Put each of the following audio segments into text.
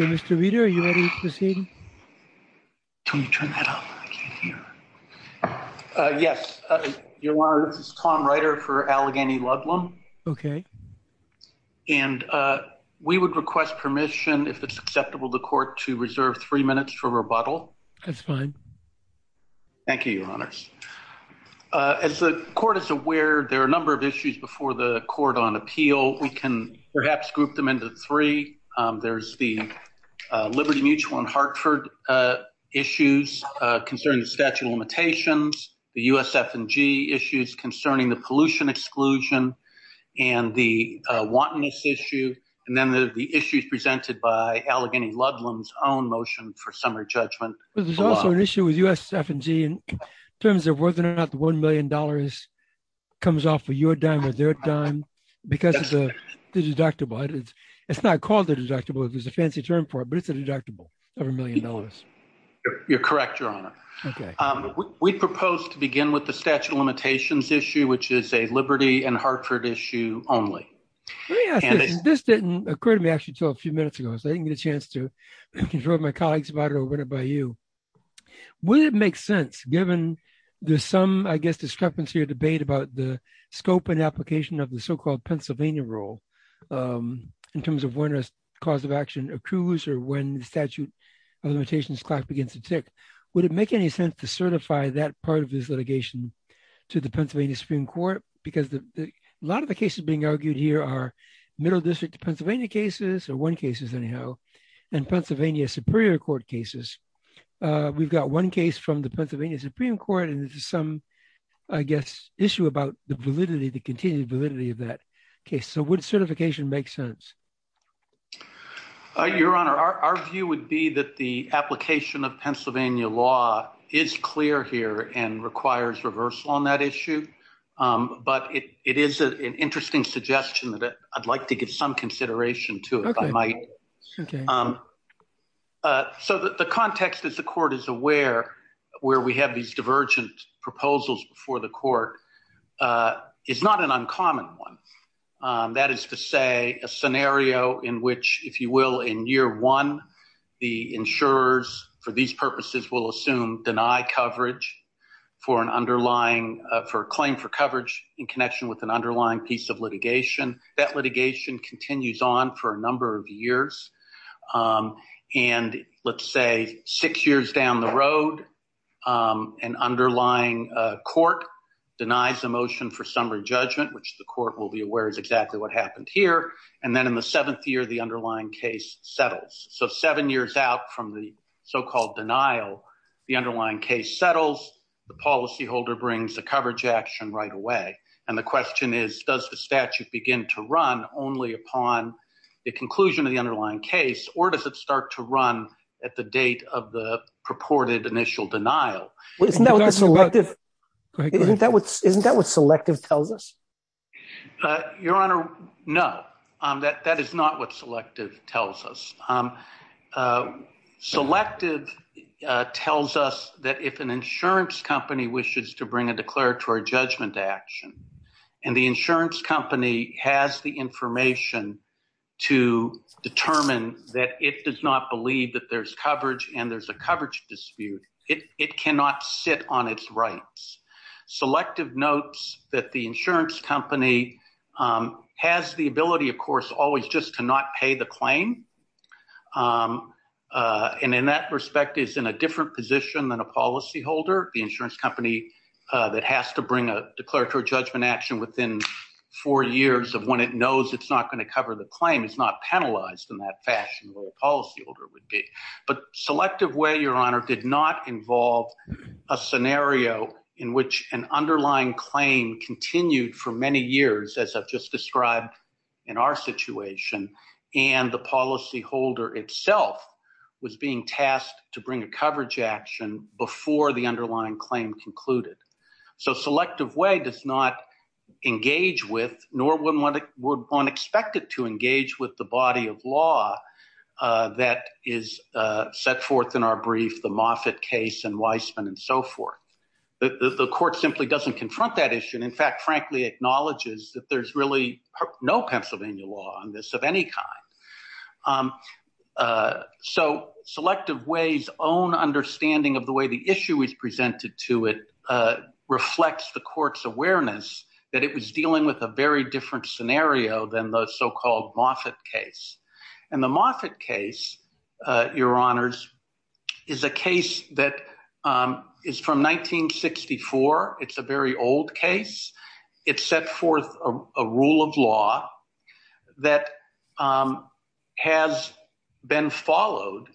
Mr. Reeder, are you ready to proceed? Tony, turn that off. I can't hear. Yes, Your Honor, this is Tom Reider for Allegheny Ludlum. Okay. And we would request permission, if it's acceptable to the Court, to reserve three minutes for rebuttal. That's fine. Thank you, Your Honors. As the Court is aware, there are a number of issues before the Court on appeal. We can perhaps group them into three. There's the Liberty Mutual and Hartford issues concerning the statute of limitations, the USF&G issues concerning the pollution exclusion, and the wantonness issue. And then the issues presented by Allegheny Ludlum's own motion for summary judgment. There's also an issue with USF&G in terms of whether or not the $1 million comes off of your dime or their dime because of the deductible. It's not called a deductible. It's a fancy term for it, but it's a deductible of $1 million. You're correct, Your Honor. We propose to begin with the statute of limitations issue, which is a Liberty and Hartford issue only. This didn't occur to me actually until a few minutes ago, so I didn't get a chance to confront my colleagues about it or win it by you. Would it make sense, given there's some, I guess, discrepancy or debate about the scope and application of the so-called Pennsylvania rule in terms of when a cause of action accrues or when the statute of limitations begins to tick, would it make any sense to certify that part of this litigation to the Pennsylvania Supreme Court? Because a lot of the cases being argued here are Middle District Pennsylvania cases, or one cases anyhow, and Pennsylvania Superior Court cases. We've got one case from the Pennsylvania Supreme Court, and there's some, I guess, issue about the validity, the continued validity of that case. So would certification make sense? Your Honor, our view would be that the application of Pennsylvania law is clear here and requires reversal on that issue. But it is an interesting suggestion that I'd like to give some consideration to if I might. So the context, as the court is aware, where we have these divergent proposals before the court is not an uncommon one. That is to say a scenario in which, if you will, in year one, the insurers for these purposes will assume deny coverage for an underlying claim for coverage in connection with an underlying piece of litigation. That litigation continues on for a number of years. And let's say six years down the road, an underlying court denies the motion for summary judgment, which the court will be aware is exactly what happened here. And then in the seventh year, the underlying case settles. So seven years out from the so-called denial, the underlying case settles. The policyholder brings the coverage action right away. And the question is, does the statute begin to run only upon the conclusion of the underlying case or does it start to run at the date of the purported initial denial? Isn't that what selective tells us? Your Honor, no, that is not what selective tells us. Selective tells us that if an insurance company wishes to bring a declaratory judgment action and the insurance company has the information to determine that it does not believe that there's coverage and there's a coverage dispute, it cannot sit on its rights. Selective notes that the insurance company has the ability, of course, always just to not pay the claim. And in that respect is in a different position than a policyholder, the insurance company that has to bring a declaratory judgment action within four years of when it knows it's not going to cover the claim. It's not penalized in that fashion where a policyholder would be. But selective way, Your Honor, did not involve a scenario in which an underlying claim continued for many years, as I've just described in our situation. And the policyholder itself was being tasked to bring a coverage action before the underlying claim concluded. So selective way does not engage with nor would one expect it to engage with the body of law that is set forth in our brief, the Moffitt case and Weisman and so forth. The court simply doesn't confront that issue. And in fact, frankly, acknowledges that there's really no Pennsylvania law on this of any kind. So selective ways own understanding of the way the issue is presented to it reflects the court's awareness that it was dealing with a very different scenario than the so-called Moffitt case. And the Moffitt case, Your Honors, is a case that is from 1964. It's a very old case. It set forth a rule of law that has been followed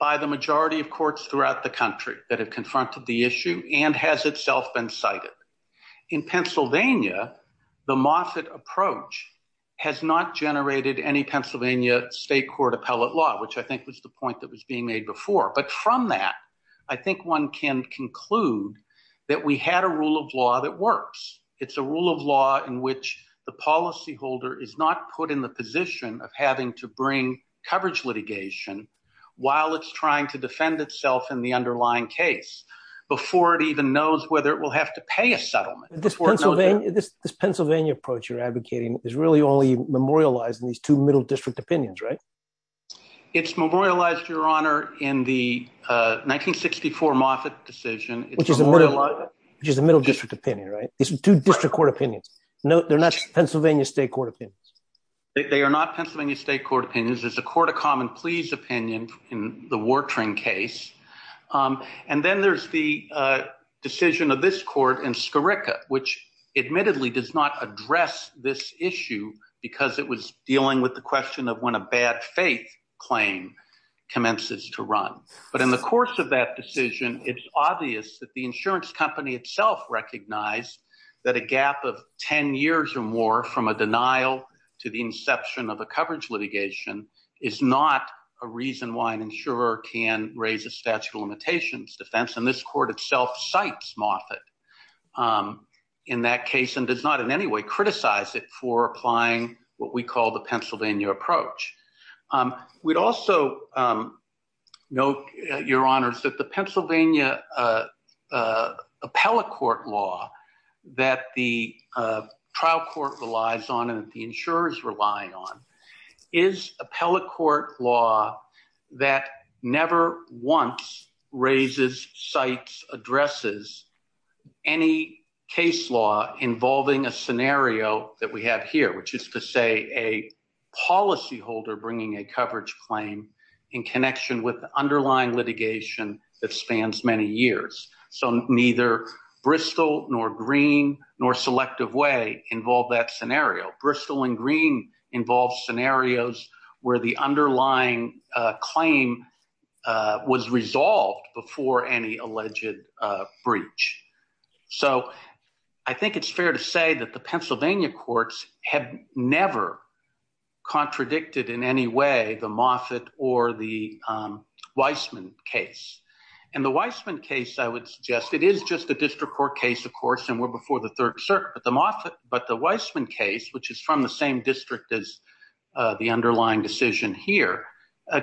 by the majority of courts throughout the country that have confronted the issue and has itself been cited. In Pennsylvania, the Moffitt approach has not generated any Pennsylvania state court appellate law, which I think was the point that was being made before. But from that, I think one can conclude that we had a rule of law that works. It's a rule of law in which the policyholder is not put in the position of having to bring coverage litigation while it's trying to defend itself in the underlying case before it even knows whether it will have to pay a settlement. This Pennsylvania approach you're advocating is really only memorialized in these two middle district opinions, right? It's memorialized, Your Honor, in the 1964 Moffitt decision. Which is a middle district opinion, right? These two district court opinions. They're not Pennsylvania state court opinions. They are not Pennsylvania state court opinions. There's a court of common pleas opinion in the Wartring case. And then there's the decision of this court in Scarica, which admittedly does not address this issue because it was dealing with the question of when a bad faith claim commences to run. But in the course of that decision, it's obvious that the insurance company itself recognized that a gap of 10 years or more from a denial to the inception of a coverage litigation is not a reason why an insurer can raise a statute of limitations defense. And this court itself cites Moffitt in that case and does not in any way criticize it for applying what we call the Pennsylvania approach. We'd also note, Your Honor, that the Pennsylvania appellate court law that the trial court relies on and the insurers rely on is appellate court law that never once raises, cites, addresses any case law involving a scenario that we have here. Which is to say a policyholder bringing a coverage claim in connection with the underlying litigation that spans many years. So neither Bristol nor Green nor Selective Way involve that scenario. Bristol and Green involve scenarios where the underlying claim was resolved before any alleged breach. So I think it's fair to say that the Pennsylvania courts have never contradicted in any way the Moffitt or the Weissman case. And the Weissman case, I would suggest, it is just a district court case, of course, and we're before the Third Circuit. But the Weissman case, which is from the same district as the underlying decision here,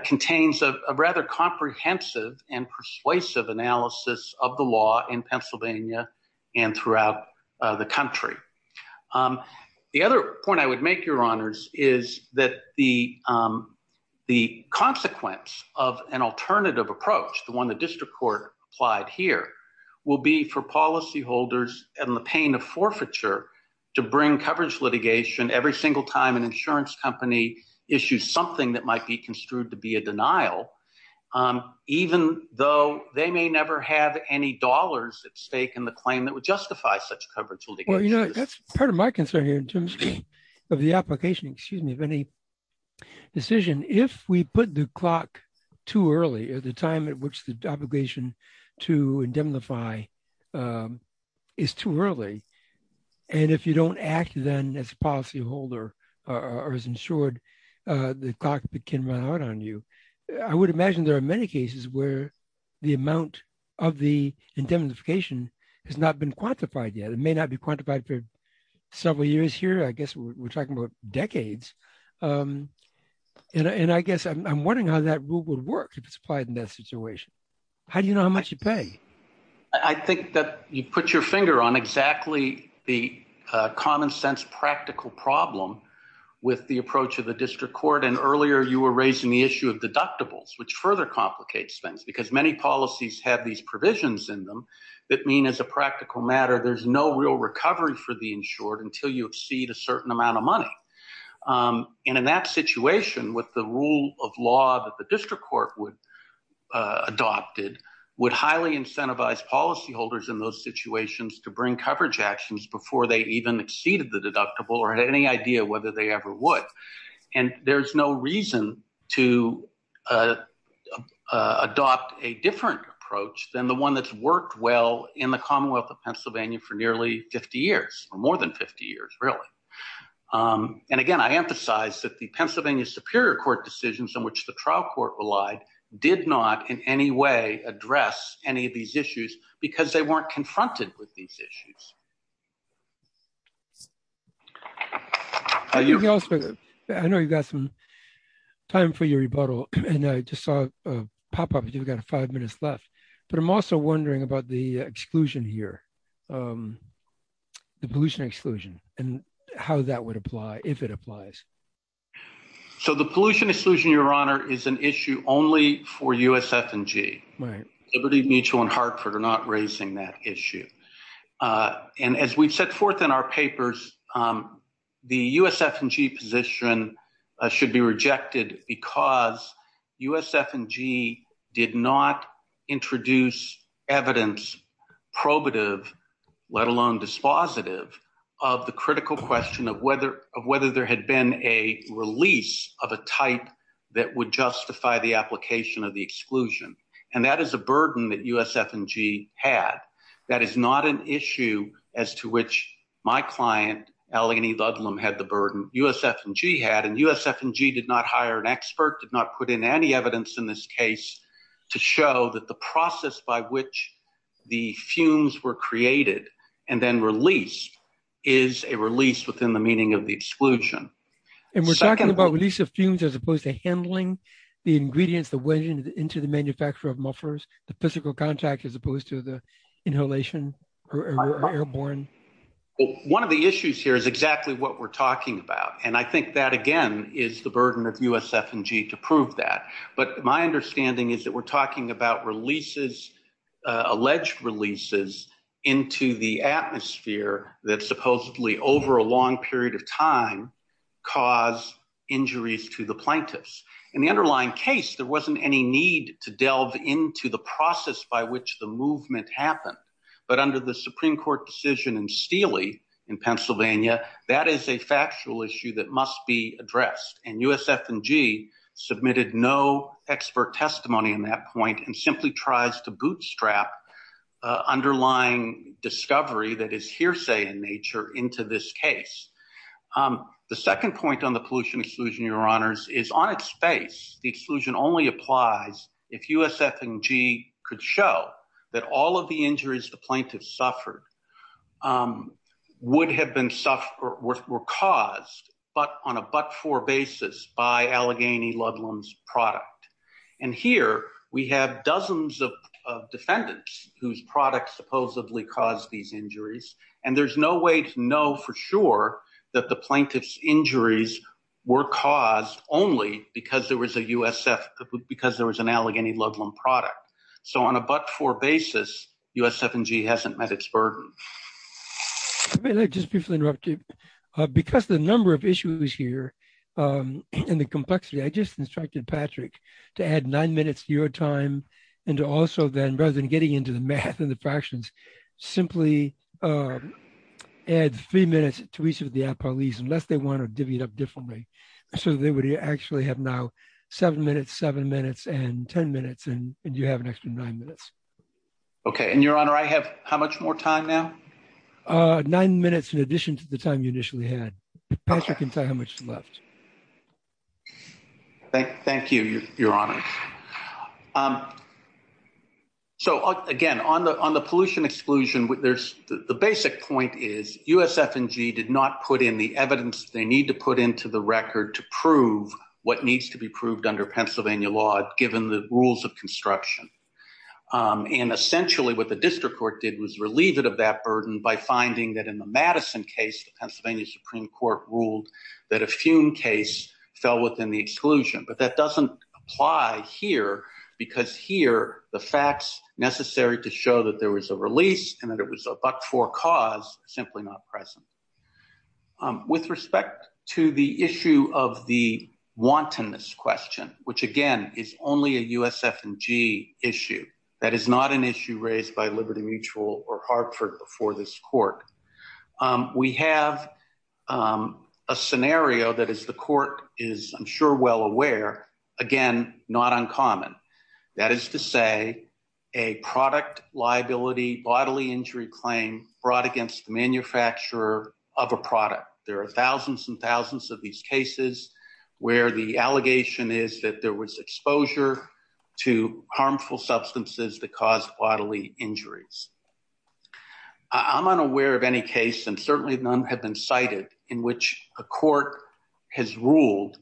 contains a rather comprehensive and persuasive analysis of the law in Pennsylvania and throughout the country. The other point I would make, Your Honors, is that the consequence of an alternative approach, the one the district court applied here, will be for policyholders in the pain of forfeiture to bring coverage litigation every single time an insurance company issues something that might be construed to be a denial, even though they may never have any dollars at stake in the claim that would justify such coverage litigation. Well, you know, that's part of my concern here in terms of the application, excuse me, of any decision. If we put the clock too early, at the time at which the obligation to indemnify is too early, and if you don't act then as a policyholder or as insured, the clock can run out on you. I would imagine there are many cases where the amount of the indemnification has not been quantified yet. It may not be quantified for several years here, I guess we're talking about decades. And I guess I'm wondering how that rule would work if it's applied in that situation. How do you know how much you pay? I think that you put your finger on exactly the common sense practical problem with the approach of the district court. And earlier you were raising the issue of deductibles, which further complicates things because many policies have these provisions in them that mean as a practical matter, there's no real recovery for the insured until you exceed a certain amount of money. And in that situation, with the rule of law that the district court adopted, would highly incentivize policyholders in those situations to bring coverage actions before they even exceeded the deductible or had any idea whether they ever would. And there's no reason to adopt a different approach than the one that's worked well in the Commonwealth of Pennsylvania for nearly 50 years, more than 50 years really. And again, I emphasize that the Pennsylvania Superior Court decisions in which the trial court relied did not in any way address any of these issues because they weren't confronted with these issues. I know you've got some time for your rebuttal, and I just saw a pop up you've got five minutes left. But I'm also wondering about the exclusion here. The pollution exclusion and how that would apply if it applies. So the pollution exclusion, Your Honor, is an issue only for USF and G. Liberty Mutual and Hartford are not raising that issue. And as we've set forth in our papers, the USF and G position should be rejected because USF and G did not introduce evidence probative, let alone dispositive of the critical question of whether of whether there had been a release of a type that would justify the application of the exclusion. And that is a burden that USF and G had. That is not an issue as to which my client, Eleni Ludlum had the burden USF and G had and USF and G did not hire an expert did not put in any evidence in this case to show that the process by which the fumes were created and then released is a release within the meaning of the exclusion. And we're talking about release of fumes as opposed to handling the ingredients that went into the manufacture of mufflers, the physical contact as opposed to the inhalation or airborne. One of the issues here is exactly what we're talking about. And I think that, again, is the burden of USF and G to prove that. But my understanding is that we're talking about releases, alleged releases into the atmosphere that supposedly over a long period of time cause injuries to the plaintiffs. In the underlying case, there wasn't any need to delve into the process by which the movement happened. But under the Supreme Court decision in Steely in Pennsylvania, that is a factual issue that must be addressed. And USF and G submitted no expert testimony in that point and simply tries to bootstrap underlying discovery that is hearsay in nature into this case. The second point on the pollution exclusion, Your Honors, is on its face. The exclusion only applies if USF and G could show that all of the injuries the plaintiffs suffered would have been suffered were caused but on a but-for basis by Allegheny Ludlam's product. And here we have dozens of defendants whose products supposedly caused these injuries. And there's no way to know for sure that the plaintiff's injuries were caused only because there was a USF, because there was an Allegheny Ludlam product. So on a but-for basis, USF and G hasn't met its burden. Just briefly interrupt you. Because the number of issues here and the complexity, I just instructed Patrick to add nine minutes to your time and to also then rather than getting into the math and the fractions, simply add three minutes to each of the apologies unless they want to divvy it up differently. So they would actually have now seven minutes, seven minutes and 10 minutes and you have an extra nine minutes. Okay. And Your Honor, I have how much more time now? Nine minutes in addition to the time you initially had. Patrick can tell you how much is left. Thank you, Your Honors. So, again, on the pollution exclusion, the basic point is USF and G did not put in the evidence they need to put into the record to prove what needs to be proved under Pennsylvania law, given the rules of construction. And essentially what the district court did was relieve it of that burden by finding that in the Madison case, the Pennsylvania Supreme Court ruled that a fume case fell within the exclusion. But that doesn't apply here because here the facts necessary to show that there was a release and that it was a but-for cause simply not present. With respect to the issue of the wantonness question, which, again, is only a USF and G issue, that is not an issue raised by Liberty Mutual or Hartford before this court. We have a scenario that, as the court is, I'm sure, well aware, again, not uncommon. That is to say a product liability bodily injury claim brought against the manufacturer of a product. There are thousands and thousands of these cases where the allegation is that there was exposure to harmful substances that caused bodily injuries. I'm unaware of any case, and certainly none have been cited, in which a court has ruled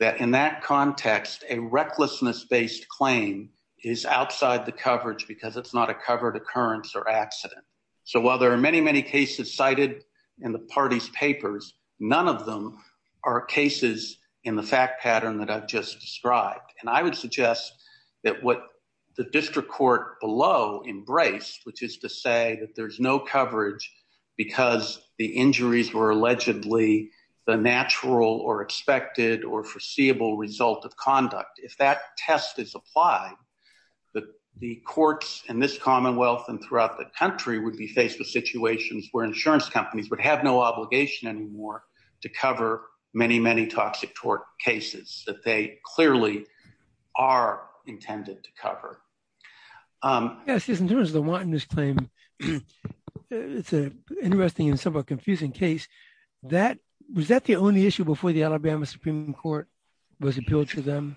that in that context a recklessness-based claim is outside the coverage because it's not a covered occurrence or accident. So while there are many, many cases cited in the party's papers, none of them are cases in the fact pattern that I've just described. And I would suggest that what the district court below embraced, which is to say that there's no coverage because the injuries were allegedly the natural or expected or foreseeable result of conduct. If that test is applied, the courts in this commonwealth and throughout the country would be faced with situations where insurance companies would have no obligation anymore to cover many, many toxic tort cases that they clearly are intended to cover. Yes, in terms of the Wantonness claim, it's an interesting and somewhat confusing case. Was that the only issue before the Alabama Supreme Court was appealed to them?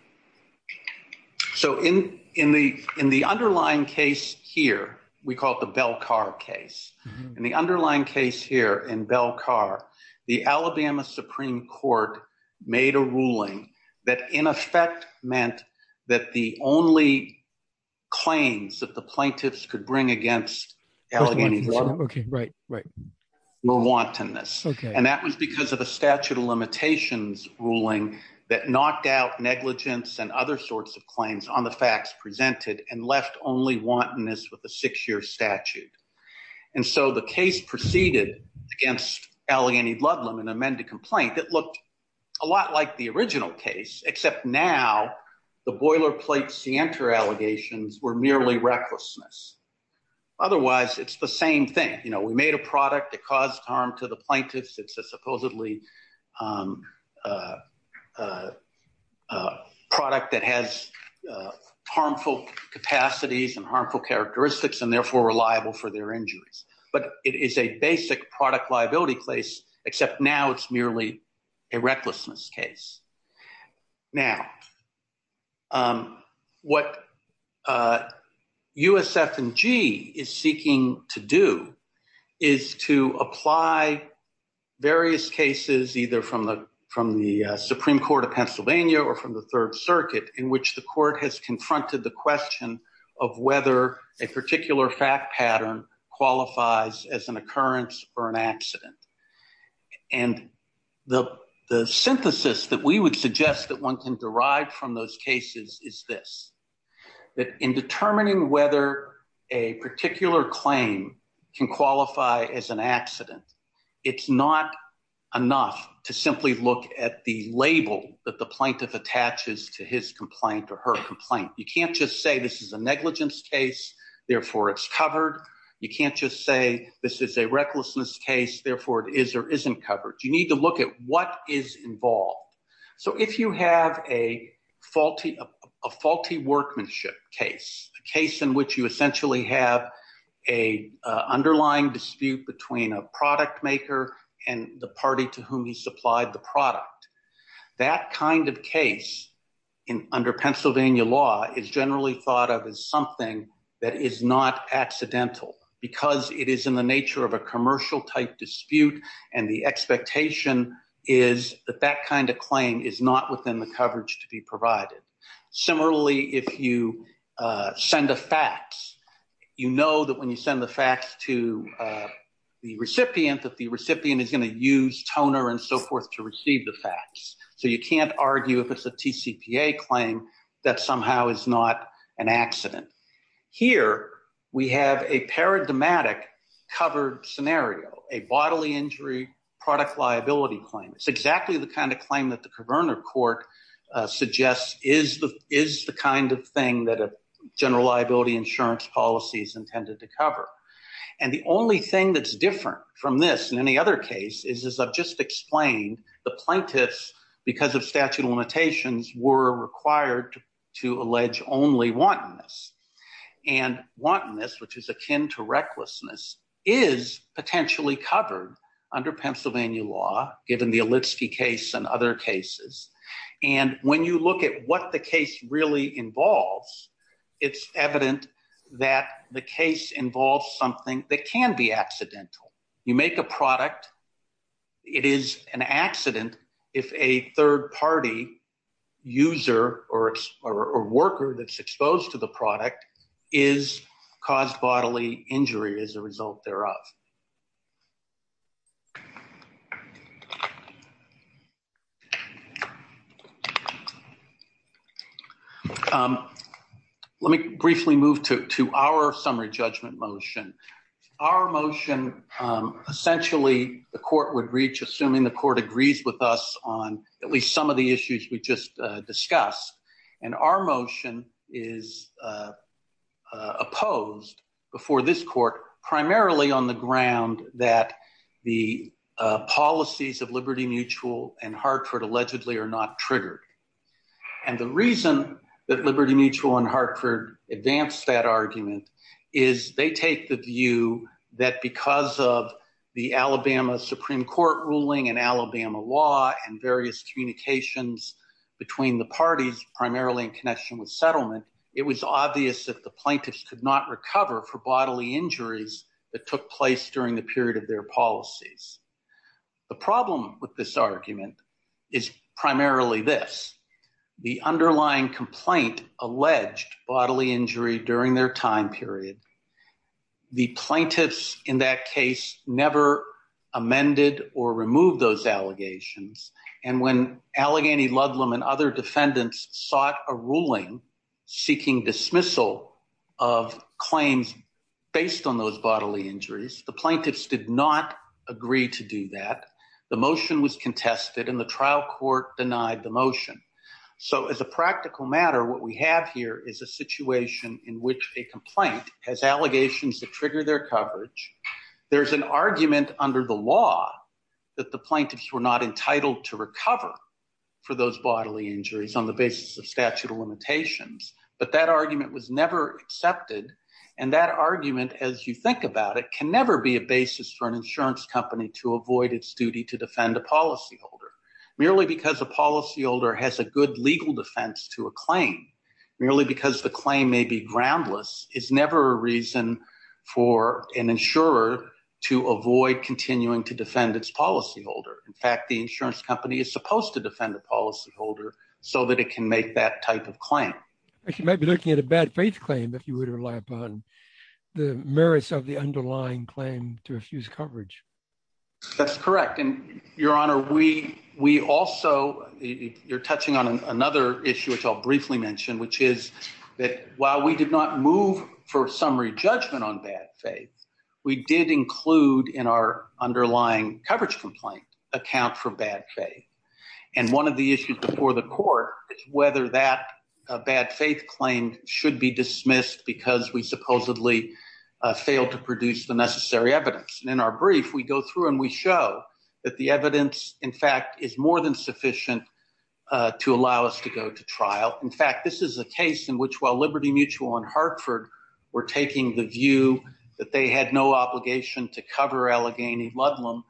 So in the underlying case here, we call it the Belcar case. In the underlying case here in Belcar, the Alabama Supreme Court made a ruling that in effect meant that the only claims that the plaintiffs could bring against Allegheny Court were wantonness. And that was because of a statute of limitations ruling that knocked out negligence and other sorts of claims on the facts presented and left only wantonness with a six-year statute. And so the case proceeded against Allegheny Ludlam in an amended complaint that looked a lot like the original case, except now the boilerplate scienter allegations were merely recklessness. Otherwise, it's the same thing. We made a product that caused harm to the plaintiffs. It's a supposedly product that has harmful capacities and harmful characteristics and therefore reliable for their injuries. But it is a basic product liability case, except now it's merely a recklessness case. Now, what USF&G is seeking to do is to apply various cases either from the Supreme Court of Pennsylvania or from the Third Circuit in which the court has confronted the question of whether a particular fact pattern qualifies as an occurrence or an accident. And the synthesis that we would suggest that one can derive from those cases is this, that in determining whether a particular claim can qualify as an accident, it's not enough to simply look at the label that the plaintiff attaches to his complaint or her complaint. You can't just say this is a negligence case, therefore it's covered. You can't just say this is a recklessness case, therefore it is or isn't covered. You need to look at what is involved. So if you have a faulty workmanship case, a case in which you essentially have an underlying dispute between a product maker and the party to whom he supplied the product, that kind of case under Pennsylvania law is generally thought of as something that is not accidental. Because it is in the nature of a commercial type dispute and the expectation is that that kind of claim is not within the coverage to be provided. Similarly, if you send a fax, you know that when you send the fax to the recipient that the recipient is going to use toner and so forth to receive the fax. So you can't argue if it's a TCPA claim that somehow is not an accident. Here, we have a paradigmatic covered scenario, a bodily injury product liability claim. It's exactly the kind of claim that the Coverner Court suggests is the kind of thing that a general liability insurance policy is intended to cover. And the only thing that's different from this and any other case is, as I've just explained, the plaintiffs, because of statute of limitations, were required to allege only wantonness. And wantonness, which is akin to recklessness, is potentially covered under Pennsylvania law, given the Alitsky case and other cases. And when you look at what the case really involves, it's evident that the case involves something that can be accidental. You make a product, it is an accident if a third party user or worker that's exposed to the product is caused bodily injury as a result thereof. Let me briefly move to our summary judgment motion. Our motion, essentially, the court would reach, assuming the court agrees with us on at least some of the issues we just discussed. And our motion is opposed before this court, primarily on the ground that the policies of Liberty Mutual and Hartford allegedly are not triggered. And the reason that Liberty Mutual and Hartford advanced that argument is they take the view that because of the Alabama Supreme Court ruling and Alabama law and various communications between the parties, primarily in connection with settlement, it was obvious that the plaintiffs could not recover for bodily injuries that took place during the period of their policies. The problem with this argument is primarily this, the underlying complaint alleged bodily injury during their time period. The plaintiffs in that case never amended or removed those allegations. And when Allegheny Ludlam and other defendants sought a ruling seeking dismissal of claims based on those bodily injuries, the plaintiffs did not agree to do that. The motion was contested and the trial court denied the motion. So as a practical matter, what we have here is a situation in which a complaint has allegations that trigger their coverage. There's an argument under the law that the plaintiffs were not entitled to recover for those bodily injuries on the basis of statute of limitations. But that argument was never accepted, and that argument, as you think about it, can never be a basis for an insurance company to avoid its duty to defend a policyholder. Merely because a policyholder has a good legal defense to a claim, merely because the claim may be groundless, is never a reason for an insurer to avoid continuing to defend its policyholder. In fact, the insurance company is supposed to defend the policyholder so that it can make that type of claim. You might be looking at a bad faith claim if you were to rely upon the merits of the underlying claim to effuse coverage. That's correct, and Your Honor, we also, you're touching on another issue which I'll briefly mention, which is that while we did not move for summary judgment on bad faith, we did include in our underlying coverage complaint account for bad faith. And one of the issues before the court is whether that bad faith claim should be dismissed because we supposedly failed to produce the necessary evidence. And in our brief, we go through and we show that the evidence, in fact, is more than sufficient to allow us to go to trial. In fact, this is a case in which, while Liberty Mutual and Hartford were taking the view that they had no obligation to cover Allegheny Ludlam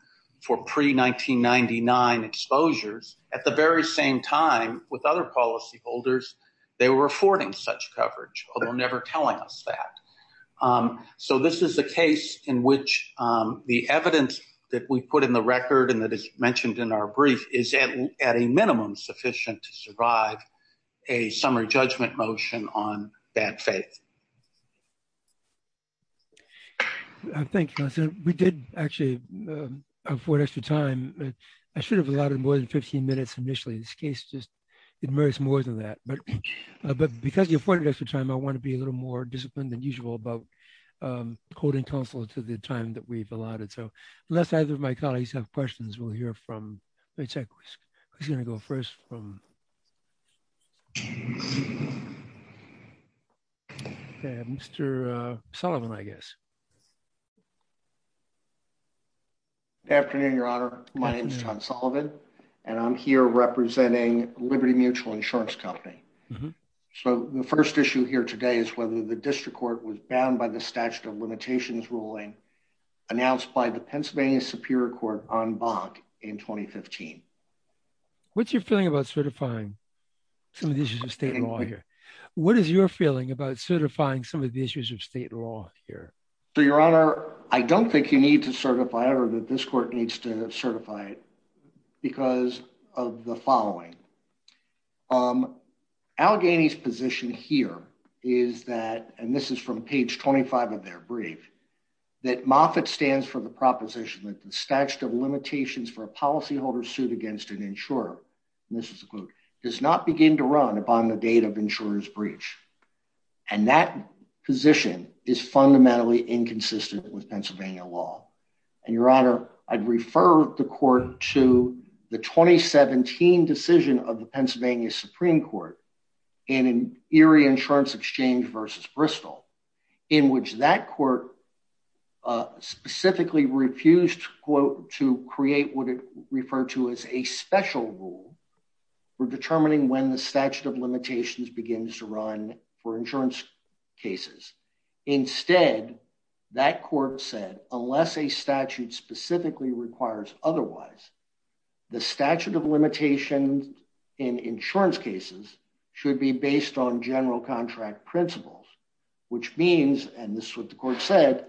for pre-1999 exposures, at the very same time, with other policyholders, they were affording such coverage, although never telling us that. So this is a case in which the evidence that we put in the record and that is mentioned in our brief is at a minimum sufficient to survive a summary judgment motion on bad faith. Thank you, counsel. We did actually afford extra time. I should have allotted more than 15 minutes initially. This case just merits more than that. But because you afforded extra time, I want to be a little more disciplined than usual about quoting counsel to the time that we've allotted. So unless either of my colleagues have questions, we'll hear from my tech, who's going to go first from Mr. Sullivan, I guess. Good afternoon, Your Honor. My name is John Sullivan, and I'm here representing Liberty Mutual Insurance Company. So the first issue here today is whether the district court was bound by the statute of limitations ruling announced by the Pennsylvania Superior Court on BOC in 2015. What's your feeling about certifying some of the issues of state law here? What is your feeling about certifying some of the issues of state law here? So, Your Honor, I don't think you need to certify it or that this court needs to certify it because of the following. Allegheny's position here is that, and this is from page 25 of their brief, that Moffitt stands for the proposition that the statute of limitations for a policyholder's suit against an insurer, and this is a quote, does not begin to run upon the date of insurer's breach. And that position is fundamentally inconsistent with Pennsylvania law. And, Your Honor, I'd refer the court to the 2017 decision of the Pennsylvania Supreme Court in an Erie Insurance Exchange versus Bristol, in which that court specifically refused to create what it referred to as a special rule for determining when the statute of limitations begins to run. For insurance cases. Instead, that court said, unless a statute specifically requires otherwise, the statute of limitations in insurance cases should be based on general contract principles, which means, and this is what the court said,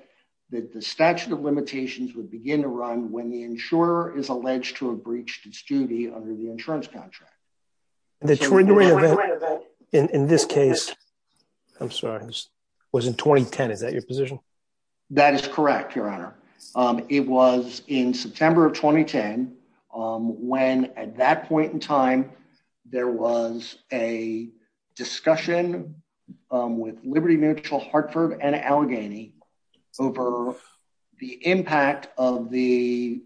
that the statute of limitations would begin to run when the insurer is alleged to have breached its duty under the insurance contract. In this case, I'm sorry, was in 2010. Is that your position? That is correct, Your Honor. It was in September of 2010, when at that point in time, there was a discussion with Liberty Mutual, Hartford, and Allegheny over the impact of the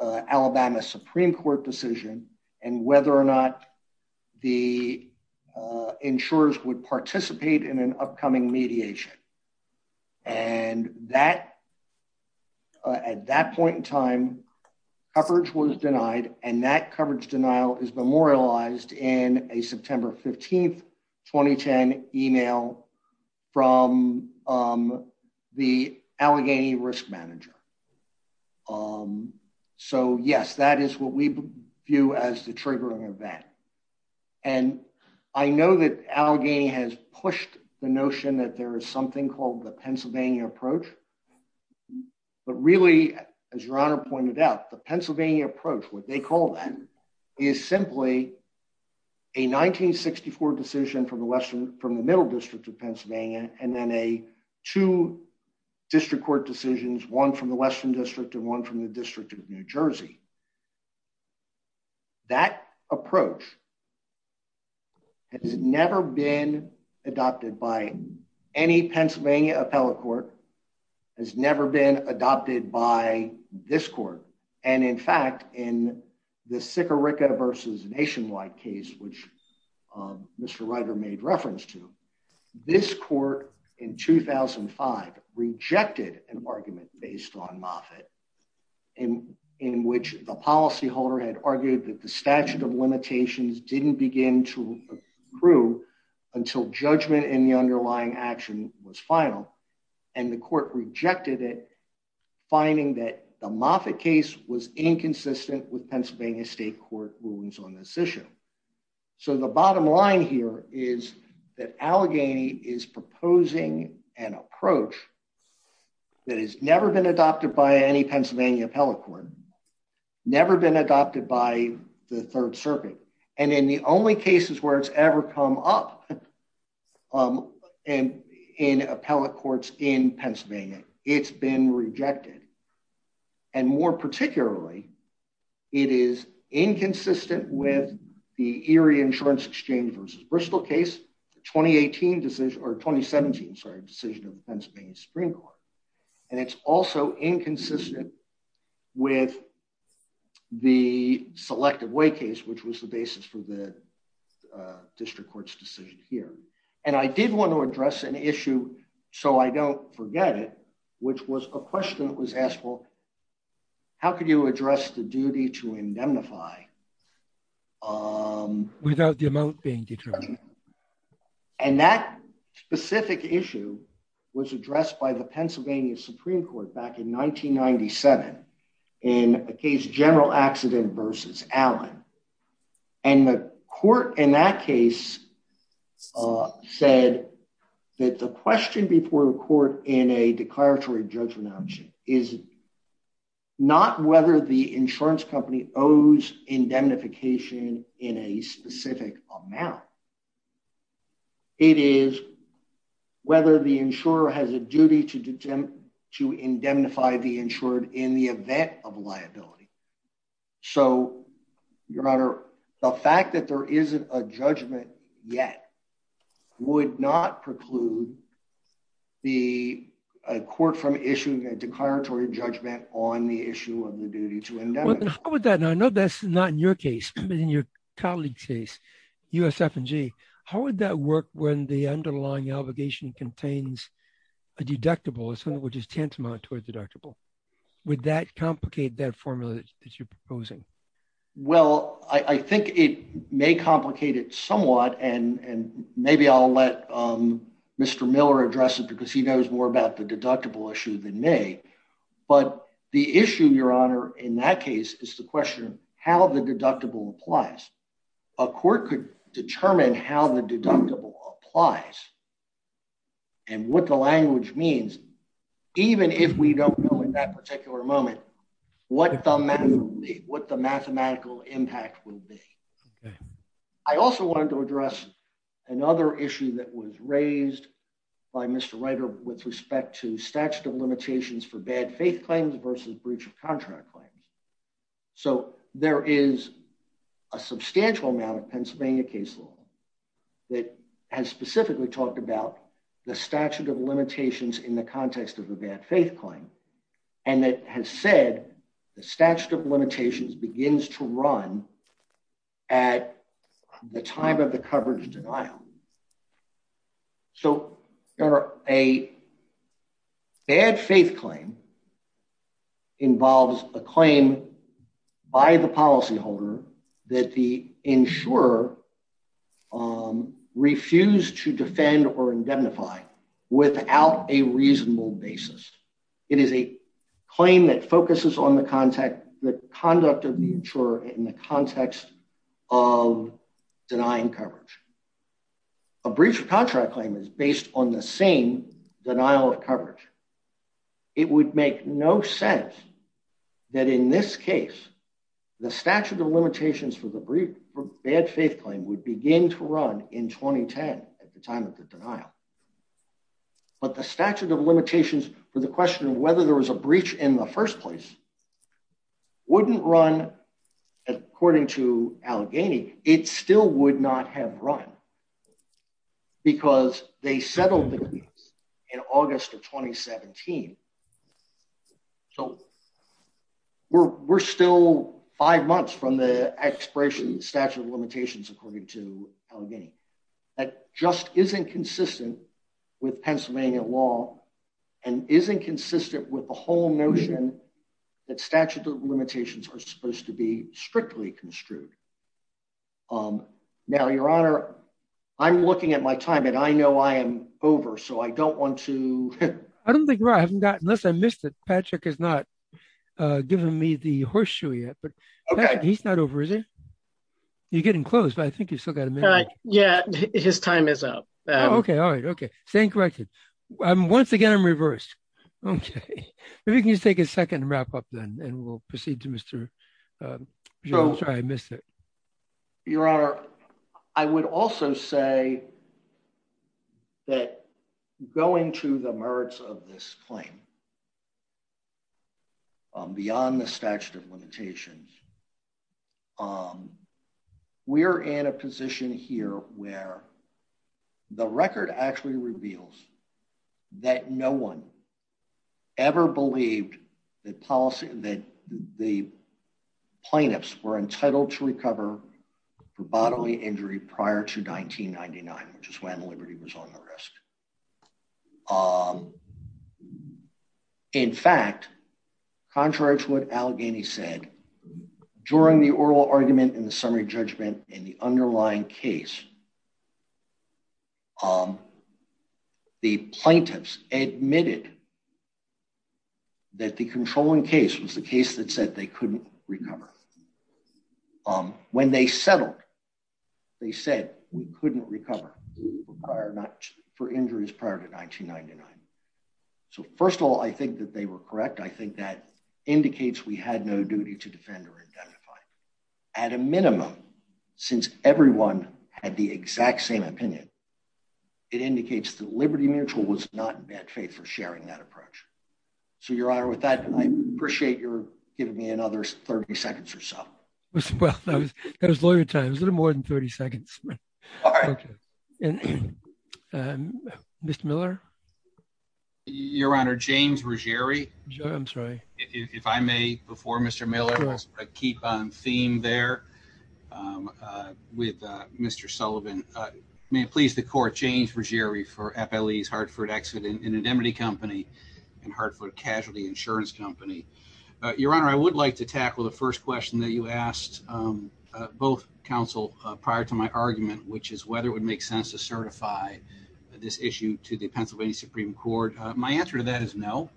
Alabama Supreme Court decision and whether or not the insurers would participate in an upcoming mediation. And at that point in time, coverage was denied, and that coverage denial is memorialized in a September 15, 2010 email from the Allegheny risk manager. So, yes, that is what we view as the triggering event. And I know that Allegheny has pushed the notion that there is something called the Pennsylvania approach. But really, as Your Honor pointed out, the Pennsylvania approach, what they call that, is simply a 1964 decision from the Middle District of Pennsylvania and then two district court decisions, one from the Western District and one from the District of New Jersey. That approach has never been adopted by any Pennsylvania appellate court, has never been adopted by this court. And in fact, in the Sikorica v. Nationwide case, which Mr. Ryder made reference to, this court in 2005 rejected an argument based on Moffitt in which the policyholder had argued that the statute of limitations didn't begin to prove until judgment in the underlying action was final. And the court rejected it, finding that the Moffitt case was inconsistent with Pennsylvania state court rulings on this issue. So the bottom line here is that Allegheny is proposing an approach that has never been adopted by any Pennsylvania appellate court, never been adopted by the Third Circuit, and in the only cases where it's ever come up in appellate courts in Pennsylvania, it's been rejected. And more particularly, it is inconsistent with the Erie Insurance Exchange v. Bristol case, the 2017 decision of the Pennsylvania Supreme Court. And it's also inconsistent with the Selective Way case, which was the basis for the district court's decision here. And I did want to address an issue, so I don't forget it, which was a question that was asked, well, how could you address the duty to indemnify without the amount being determined? And that specific issue was addressed by the Pennsylvania Supreme Court back in 1997 in a case, General Accident v. Allen. And the court in that case said that the question before the court in a declaratory judgment is not whether the insurance company owes indemnification in a specific amount. It is whether the insurer has a duty to indemnify the insured in the event of liability. So, Your Honor, the fact that there isn't a judgment yet would not preclude the court from issuing a declaratory judgment on the issue of the duty to indemnify. How would that, and I know that's not in your case, but in your colleague's case, USF&G, how would that work when the underlying obligation contains a deductible, which is tantamount to a deductible? Would that complicate that formula that you're proposing? Well, I think it may complicate it somewhat, and maybe I'll let Mr. Miller address it because he knows more about the deductible issue than me. But the issue, Your Honor, in that case is the question of how the deductible applies. A court could determine how the deductible applies and what the language means, even if we don't know in that particular moment what the math will be, what the mathematical impact will be. I also wanted to address another issue that was raised by Mr. Ryder with respect to statute of limitations for bad faith claims versus breach of contract claims. So there is a substantial amount of Pennsylvania case law that has specifically talked about the statute of limitations in the context of a bad faith claim, and that has said the statute of limitations begins to run at the time of the coverage denial. So, Your Honor, a bad faith claim involves a claim by the policyholder that the insurer refused to defend or indemnify without a reasonable basis. It is a claim that focuses on the conduct of the insurer in the context of denying coverage. A breach of contract claim is based on the same denial of coverage. It would make no sense that in this case, the statute of limitations for the bad faith claim would begin to run in 2010 at the time of the denial. But the statute of limitations for the question of whether there was a breach in the first place wouldn't run according to Allegheny. It still would not have run because they settled the case in August of 2017. So, we're still five months from the expiration of the statute of limitations according to Allegheny. That just isn't consistent with Pennsylvania law and isn't consistent with the whole notion that statute of limitations are supposed to be strictly construed. Now, Your Honor, I'm looking at my time and I know I am over so I don't want to... I don't think, unless I missed it, Patrick has not given me the horseshoe yet, but he's not over, is he? You're getting close, but I think you've still got a minute. Yeah, his time is up. Okay, all right. Okay. Staying corrected. Once again, I'm reversed. Okay. If you can just take a second to wrap up then and we'll proceed to Mr. Jones. Sorry, I missed it. Your Honor, I would also say that going to the merits of this claim beyond the statute of limitations, we're in a position here where the record actually reveals that no one ever believed that the plaintiffs were entitled to recover for bodily injury prior to 1999, which is when Liberty was on the risk. In fact, contrary to what Allegheny said, during the oral argument in the summary judgment in the underlying case, the plaintiffs admitted that the controlling case was the case that said they couldn't recover. When they settled, they said we couldn't recover for injuries prior to 1999. So first of all, I think that they were correct. I think that indicates we had no duty to defend or identify. At a minimum, since everyone had the exact same opinion, it indicates that Liberty Mutual was not in bad faith for sharing that approach. So, Your Honor, with that, I appreciate your giving me another 30 seconds or so. Well, that was lawyer time. It was a little more than 30 seconds. All right. Mr. Miller? Your Honor, James Ruggieri. I'm sorry. If I may, before Mr. Miller, keep on theme there with Mr. Sullivan. May it please the Court, James Ruggieri for FLE's Hartford Exit Indemnity Company and Hartford Casualty Insurance Company. Your Honor, I would like to tackle the first question that you asked both counsel prior to my argument, which is whether it would make sense to certify this issue to the Pennsylvania Supreme Court. My answer to that is no,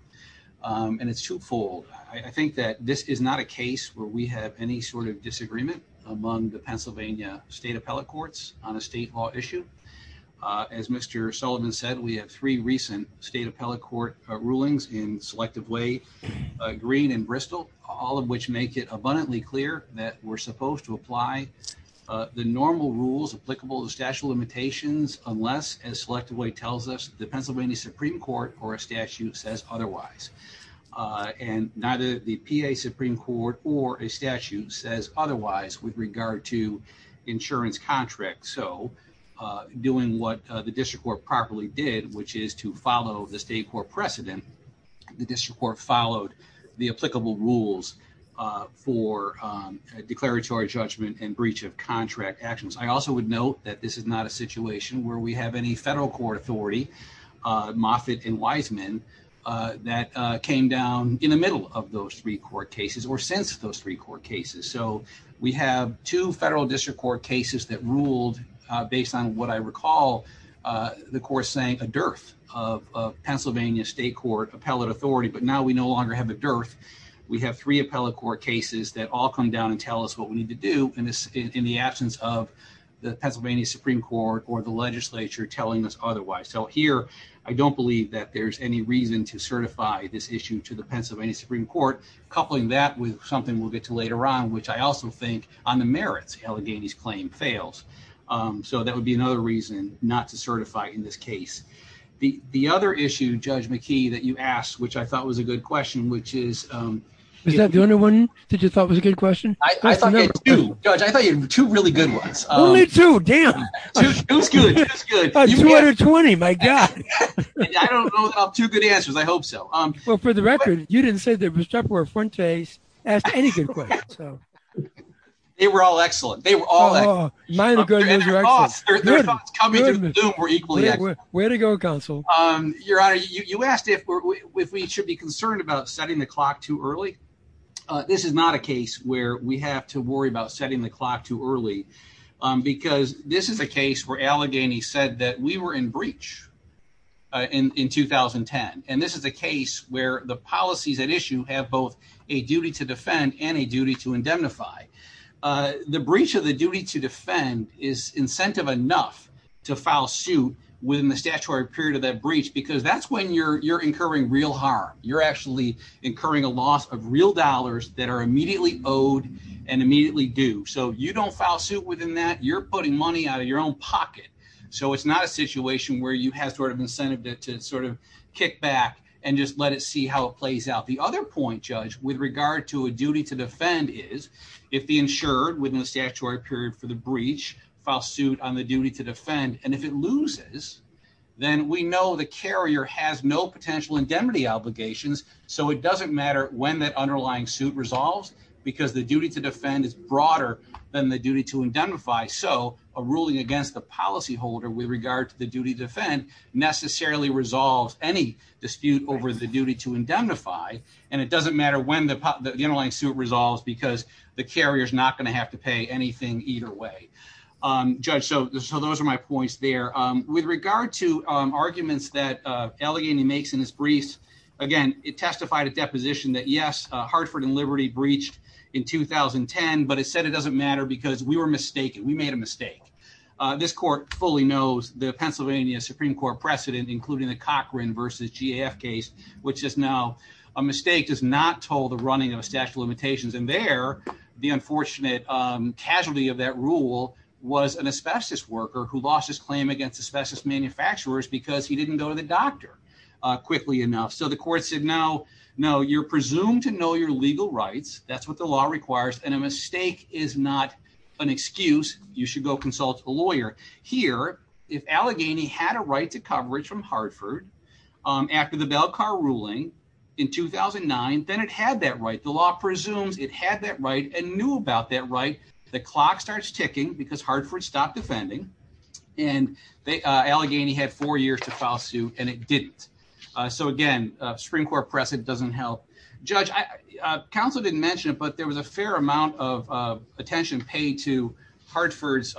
and it's twofold. I think that this is not a case where we have any sort of disagreement among the Pennsylvania State Appellate Courts on a state law issue. As Mr. Sullivan said, we have three recent State Appellate Court rulings in Selective Way, Green and Bristol, all of which make it abundantly clear that we're supposed to apply the normal rules applicable to statute of limitations unless, as Selective Way tells us, the Pennsylvania Supreme Court or a statute says otherwise. And neither the PA Supreme Court or a statute says otherwise with regard to insurance contracts. So, doing what the District Court properly did, which is to follow the State Court precedent, the District Court followed the applicable rules for declaratory judgment and breach of contract actions. I also would note that this is not a situation where we have any federal court authority, Moffitt and Wiseman, that came down in the middle of those three court cases or since those three court cases. So, we have two federal district court cases that ruled based on what I recall the court saying, a dearth of Pennsylvania State Court appellate authority, but now we no longer have a dearth. We have three appellate court cases that all come down and tell us what we need to do in the absence of the Pennsylvania Supreme Court or the legislature telling us otherwise. So, here, I don't believe that there's any reason to certify this issue to the Pennsylvania Supreme Court, coupling that with something we'll get to later on, which I also think on the merits, Allegheny's claim fails. So, that would be another reason not to certify in this case. The other issue, Judge McKee, that you asked, which I thought was a good question, which is… Is that the only one that you thought was a good question? I thought there were two. Judge, I thought there were two really good ones. Only two? Damn. Two is good. Two is good. 220, my God. I don't know of two good answers. I hope so. Well, for the record, you didn't say that Bustapo or Fuentes asked any good questions. They were all excellent. They were all excellent. Mine are good and yours are excellent. Their thoughts coming into the loop were equally excellent. Way to go, counsel. Your Honor, you asked if we should be concerned about setting the clock too early. This is not a case where we have to worry about setting the clock too early because this is a case where Allegheny said that we were in breach in 2010. And this is a case where the policies at issue have both a duty to defend and a duty to indemnify. The breach of the duty to defend is incentive enough to file suit within the statutory period of that breach because that's when you're incurring real harm. You're actually incurring a loss of real dollars that are immediately owed and immediately due. So you don't file suit within that. You're putting money out of your own pocket. So it's not a situation where you have sort of incentive to sort of kick back and just let it see how it plays out. The other point, Judge, with regard to a duty to defend is if the insured within the statutory period for the breach file suit on the duty to defend, and if it loses, then we know the carrier has no potential indemnity obligations. So it doesn't matter when that underlying suit resolves because the duty to defend is broader than the duty to indemnify. So a ruling against the policyholder with regard to the duty to defend necessarily resolves any dispute over the duty to indemnify. And it doesn't matter when the underlying suit resolves because the carrier is not going to have to pay anything either way. Judge, so those are my points there. With regard to arguments that Allegheny makes in his briefs, again, it testified a deposition that, yes, Hartford and Liberty breached in 2010, but it said it doesn't matter because we were mistaken. We made a mistake. This court fully knows the Pennsylvania Supreme Court precedent, including the Cochran versus GAF case, which is now a mistake does not toll the running of a statute of limitations. And there, the unfortunate casualty of that rule was an asbestos worker who lost his claim against asbestos manufacturers because he didn't go to the doctor quickly enough. So the court said, no, no, you're presumed to know your legal rights. That's what the law requires. And a mistake is not an excuse. You should go consult a lawyer here. If Allegheny had a right to coverage from Hartford after the Belcar ruling in 2009, then it had that right. The law presumes it had that right and knew about that right. The clock starts ticking because Hartford stopped defending, and Allegheny had four years to file suit, and it didn't. So again, Supreme Court precedent doesn't help. Judge, counsel didn't mention it, but there was a fair amount of attention paid to Hartford's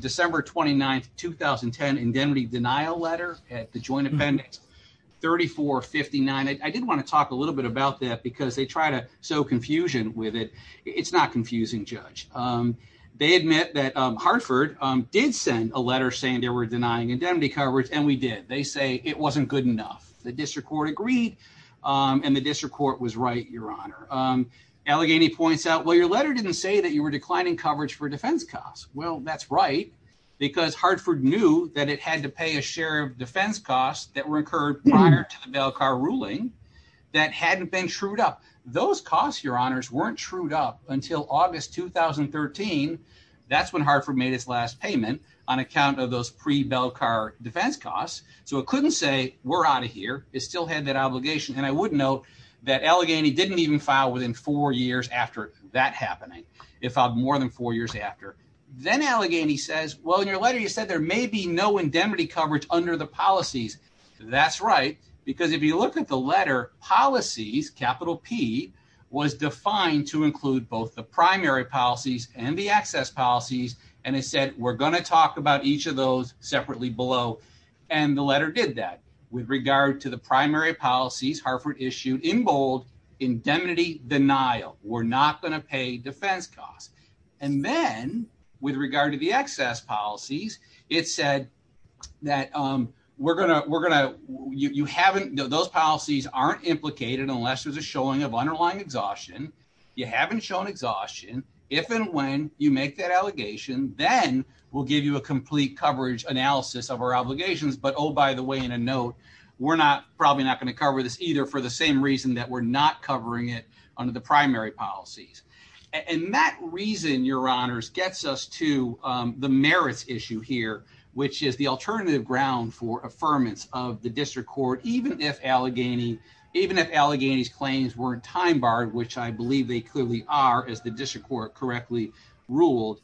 December 29th, 2010, indemnity denial letter at the joint appendix, 3459. And I did want to talk a little bit about that because they try to sow confusion with it. It's not confusing, Judge. They admit that Hartford did send a letter saying they were denying indemnity coverage, and we did. They say it wasn't good enough. The district court agreed, and the district court was right, Your Honor. Allegheny points out, well, your letter didn't say that you were declining coverage for defense costs. Well, that's right, because Hartford knew that it had to pay a share of defense costs that were incurred prior to the Bell Car ruling that hadn't been trued up. Those costs, Your Honors, weren't trued up until August 2013. That's when Hartford made its last payment on account of those pre-Bell Car defense costs. So it couldn't say, we're out of here. It still had that obligation, and I would note that Allegheny didn't even file within four years after that happening. It filed more than four years after. Then Allegheny says, well, in your letter, you said there may be no indemnity coverage under the policies. That's right, because if you look at the letter, Policies, capital P, was defined to include both the primary policies and the access policies, and it said, we're going to talk about each of those separately below, and the letter did that. With regard to the primary policies, Hartford issued in bold, indemnity denial. We're not going to pay defense costs. And then, with regard to the access policies, it said that those policies aren't implicated unless there's a showing of underlying exhaustion. You haven't shown exhaustion. If and when you make that allegation, then we'll give you a complete coverage analysis of our obligations. But oh, by the way, in a note, we're probably not going to cover this either, for the same reason that we're not covering it under the primary policies. And that reason, your honors, gets us to the merits issue here, which is the alternative ground for affirmance of the district court, even if Allegheny's claims weren't time-barred, which I believe they clearly are, as the district court correctly ruled,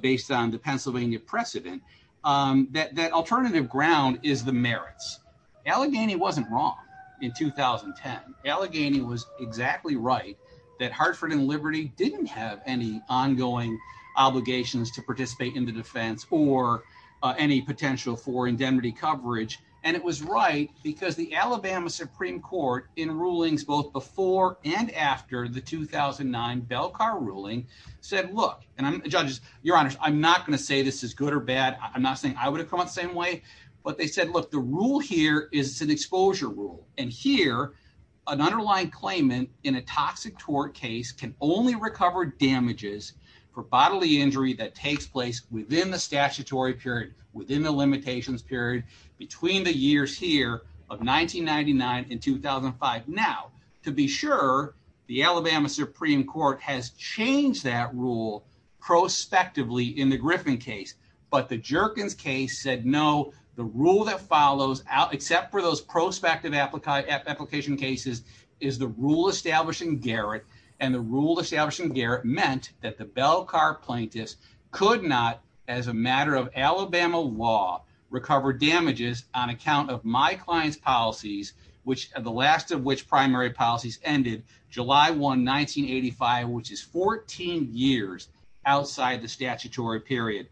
based on the Pennsylvania precedent, that alternative ground is the merits. Allegheny wasn't wrong in 2010. Allegheny was exactly right that Hartford and Liberty didn't have any ongoing obligations to participate in the defense or any potential for indemnity coverage. And it was right because the Alabama Supreme Court, in rulings both before and after the 2009 Belcar ruling, said, look, and judges, your honors, I'm not going to say this is good or bad. I'm not saying I would have come out the same way. But they said, look, the rule here is an exposure rule. And here, an underlying claimant in a toxic tort case can only recover damages for bodily injury that takes place within the statutory period, within the limitations period, between the years here of 1999 and 2005. Now, to be sure, the Alabama Supreme Court has changed that rule prospectively in the Griffin case. But the Jerkins case said, no, the rule that follows, except for those prospective application cases, is the rule establishing Garrett. And the rule establishing Garrett meant that the Belcar plaintiffs could not, as a matter of Alabama law, recover damages on account of my client's policies, the last of which primary policies ended July 1, 1985, which is 14 years outside the statutory period.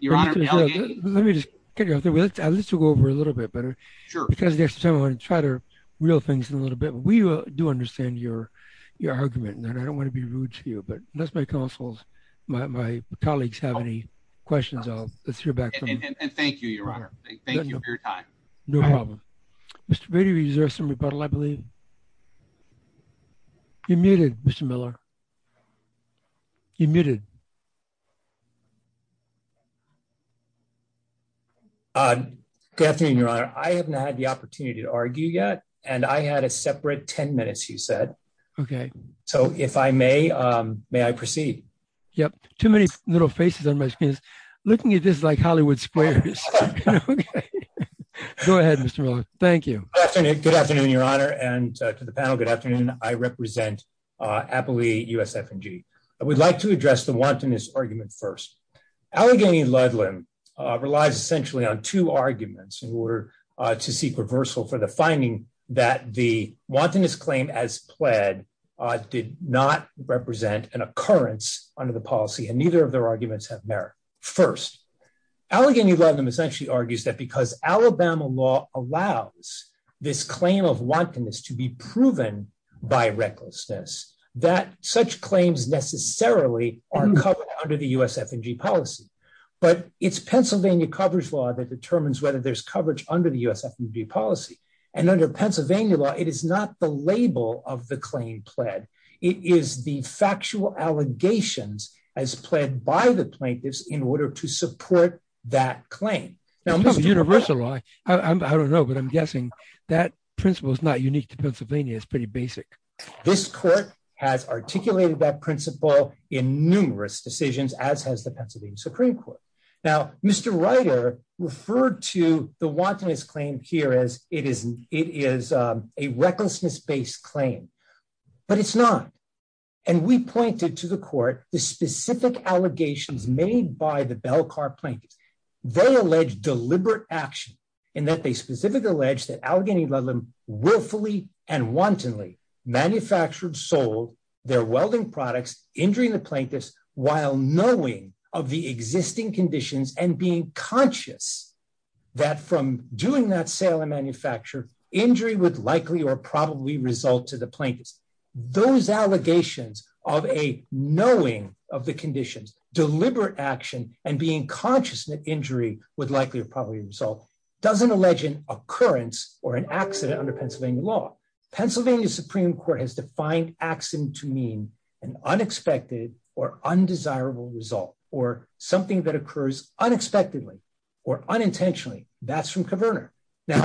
Your honor, Let me just get you out there. Let's go over a little bit better. Sure. Because next time I want to try the real things in a little bit. We do understand your argument, and I don't want to be rude to you. But unless my counsels, my colleagues have any questions, I'll steer back. And thank you, your honor. Thank you for your time. No problem. Mr. Brady, is there some rebuttal, I believe? You're muted, Mr. Miller. You're muted. Good afternoon, your honor. I haven't had the opportunity to argue yet. And I had a separate 10 minutes, you said. Okay. So if I may, may I proceed? Yep. Too many little faces on my screens. Looking at this like Hollywood sprayers. Go ahead, Mr. Miller. Thank you. Good afternoon, your honor. And to the panel, good afternoon. I represent Appalachia, USF and G. I would like to address the one question. Allegheny Ludlam's claim of wantonness argument first. Allegheny Ludlam relies essentially on two arguments in order to seek reversal for the finding that the wantonness claim as pled did not represent an occurrence under the policy, and neither of their arguments have merit. First, Allegheny Ludlam essentially argues that because Alabama law allows this claim of wantonness to be proven by recklessness, that such claims necessarily are covered under the USF and G policy. But it's Pennsylvania coverage law that determines whether there's coverage under the USF and G policy. And under Pennsylvania law, it is not the label of the claim pled. It is the factual allegations as pled by the plaintiffs in order to support that claim. It's not universal law. I don't know, but I'm guessing that principle is not unique to Pennsylvania. It's pretty basic. This court has articulated that principle in numerous decisions, as has the Pennsylvania Supreme Court. Now, Mr. Ryder referred to the wantonness claim here as it is a recklessness-based claim, but it's not. And we pointed to the court the specific allegations made by the Bell Car Plaintiffs. They allege deliberate action in that they specifically allege that Allegheny Ludlam willfully and wantonly manufactured, sold their welding products, injuring the plaintiffs while knowing of the existing conditions and being conscious that from doing that sale and manufacture, injury would likely or probably result to the plaintiffs. Those allegations of a knowing of the conditions, deliberate action, and being conscious that injury would likely or probably result doesn't allege an occurrence or an accident under Pennsylvania law. Pennsylvania Supreme Court has defined accident to mean an unexpected or undesirable result or something that occurs unexpectedly or unintentionally. That's from Caverner. Now,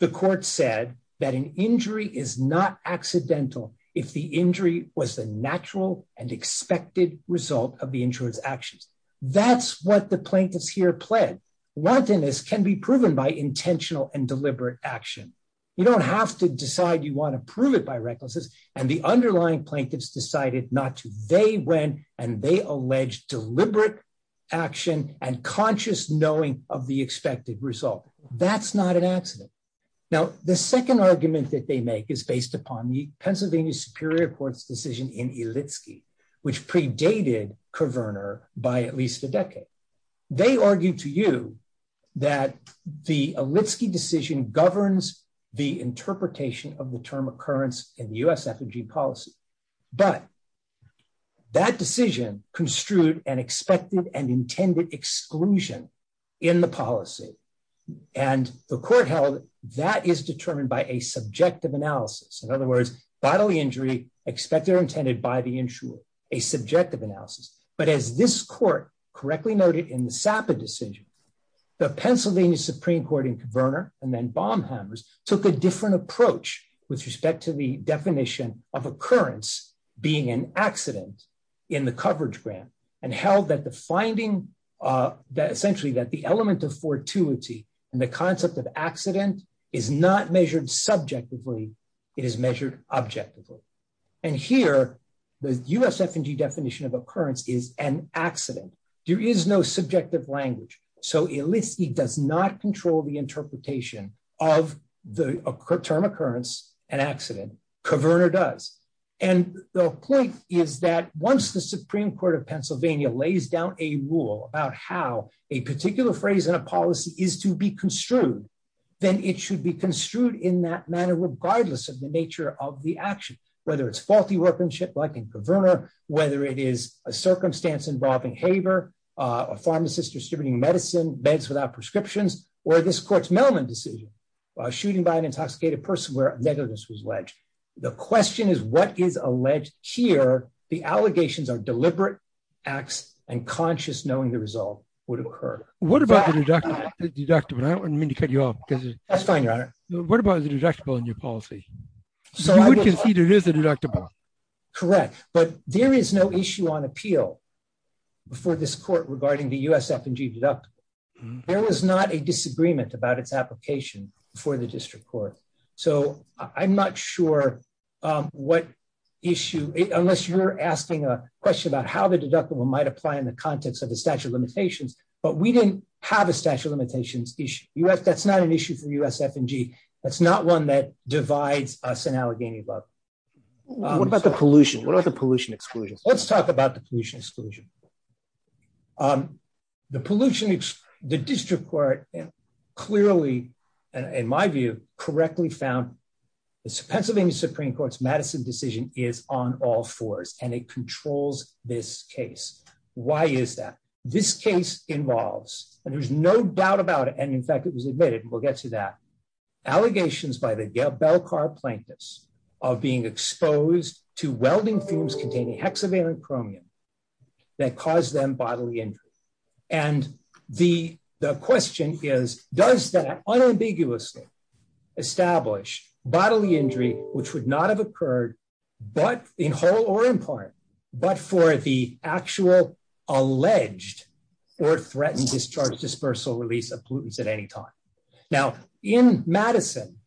the court said that an injury is not accidental if the injury was the natural and expected result of the injured's actions. That's what the plaintiffs here pled. Wantonness can be proven by intentional and deliberate action. You don't have to decide you want to prove it by recklessness. And the underlying plaintiffs decided not to. They went and they alleged deliberate action and conscious knowing of the expected result. That's not an accident. Now, the second argument that they make is based upon the Pennsylvania Superior Court's decision in Illitsky, which predated Caverner by at least a decade. They argued to you that the Illitsky decision governs the interpretation of the term occurrence in the USFG policy. But that decision construed an expected and intended exclusion in the policy. And the court held that is determined by a subjective analysis. In other words, bodily injury expected or intended by the insurer, a subjective analysis. But as this court correctly noted in the Sapa decision, the Pennsylvania Supreme Court in Caverner and then Baumhammer's took a different approach with respect to the definition of occurrence being an accident in the coverage grant. And held that the finding that essentially that the element of fortuity and the concept of accident is not measured subjectively. It is measured objectively. And here, the USFG definition of occurrence is an accident. There is no subjective language. So Illitsky does not control the interpretation of the term occurrence and accident. Caverner does. And the point is that once the Supreme Court of Pennsylvania lays down a rule about how a particular phrase in a policy is to be construed, then it should be construed in that manner, regardless of the nature of the action. Whether it's faulty workmanship like in Caverner, whether it is a circumstance involving haver, a pharmacist distributing medicine, beds without prescriptions, or this court's Melman decision. Shooting by an intoxicated person where negligence was alleged. The question is what is alleged here, the allegations are deliberate acts and conscious knowing the result would occur. What about the deductible? I don't mean to cut you off. That's fine, Your Honor. What about the deductible in your policy? You would concede it is a deductible. Correct. But there is no issue on appeal before this court regarding the USFG deductible. There was not a disagreement about its application before the district court. So I'm not sure what issue, unless you're asking a question about how the deductible might apply in the context of the statute of limitations, but we didn't have a statute of limitations issue. That's not an issue for USFG. That's not one that divides us in Allegheny above. What about the pollution? What are the pollution exclusions? Let's talk about the pollution exclusion. The pollution, the district court clearly, in my view, correctly found the Pennsylvania Supreme Court's Madison decision is on all fours and it controls this case. Why is that? This case involves, and there's no doubt about it, and in fact it was admitted, we'll get to that, allegations by the Belcar plaintiffs of being exposed to welding fumes containing hexavalent chromium that caused them bodily injury. And the question is, does that unambiguously establish bodily injury, which would not have occurred, but in whole or in part, but for the actual alleged or threatened discharge dispersal release of pollutants at any time? Now, in Madison,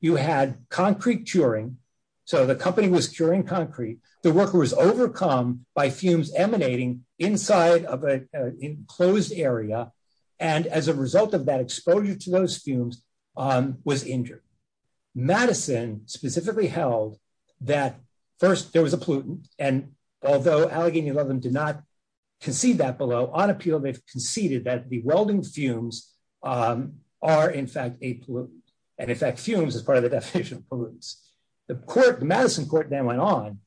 you had concrete curing, so the company was curing concrete. The worker was overcome by fumes emanating inside of an enclosed area, and as a result of that exposure to those fumes, was injured. Madison specifically held that first there was a pollutant, and although Allegheny 11 did not concede that below, on appeal they've conceded that the welding fumes are in fact a pollutant, and in fact fumes is part of the definition of pollutants. The Madison court then went on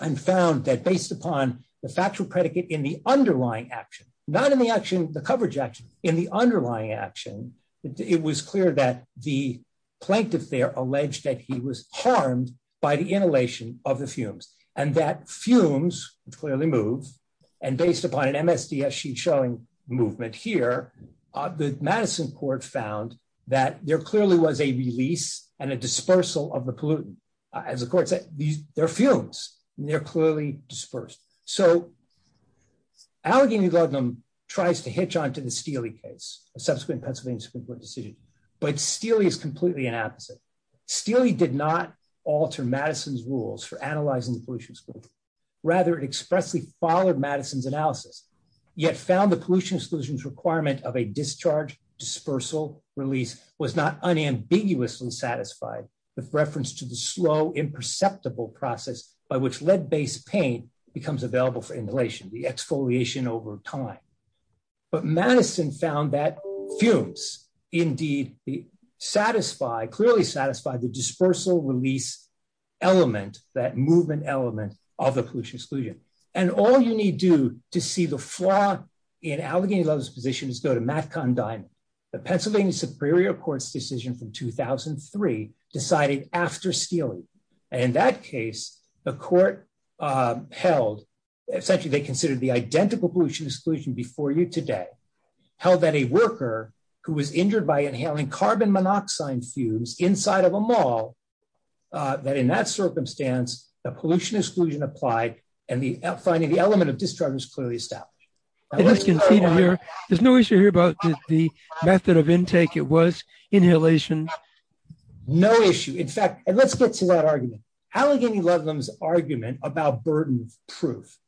and found that based upon the factual predicate in the underlying action, not in the coverage action, in the underlying action, it was clear that the plaintiff there alleged that he was harmed by the inhalation of the fumes, and that fumes clearly move. And based upon an MSDS sheet showing movement here, the Madison court found that there clearly was a release and a dispersal of the pollutant. As the court said, they're fumes, and they're clearly dispersed. So, Allegheny Ludlum tries to hitch on to the Steele case, a subsequent Pennsylvania Supreme Court decision, but Steele is completely an opposite. Steele did not alter Madison's rules for analyzing the pollution exclusion. Rather, it expressly followed Madison's analysis, yet found the pollution exclusion's requirement of a discharge dispersal release was not unambiguously satisfied with reference to the slow, imperceptible process by which lead-based paint becomes available for inhalation, the exfoliation over time. But Madison found that fumes indeed satisfy, clearly satisfy the dispersal release element, that movement element of the pollution exclusion. And all you need do to see the flaw in Allegheny Ludlum's position is go to Matt Condine, the Pennsylvania Superior Court's decision from 2003 decided after Steele. And in that case, the court held, essentially they considered the identical pollution exclusion before you today, held that a worker who was injured by inhaling carbon monoxide fumes inside of a mall, that in that circumstance, the pollution exclusion applied and the finding the element of discharge was clearly established. There's no issue here about the method of intake, it was inhalation. No issue. In fact, and let's get to that argument. Allegheny Ludlum's argument about burden of proof.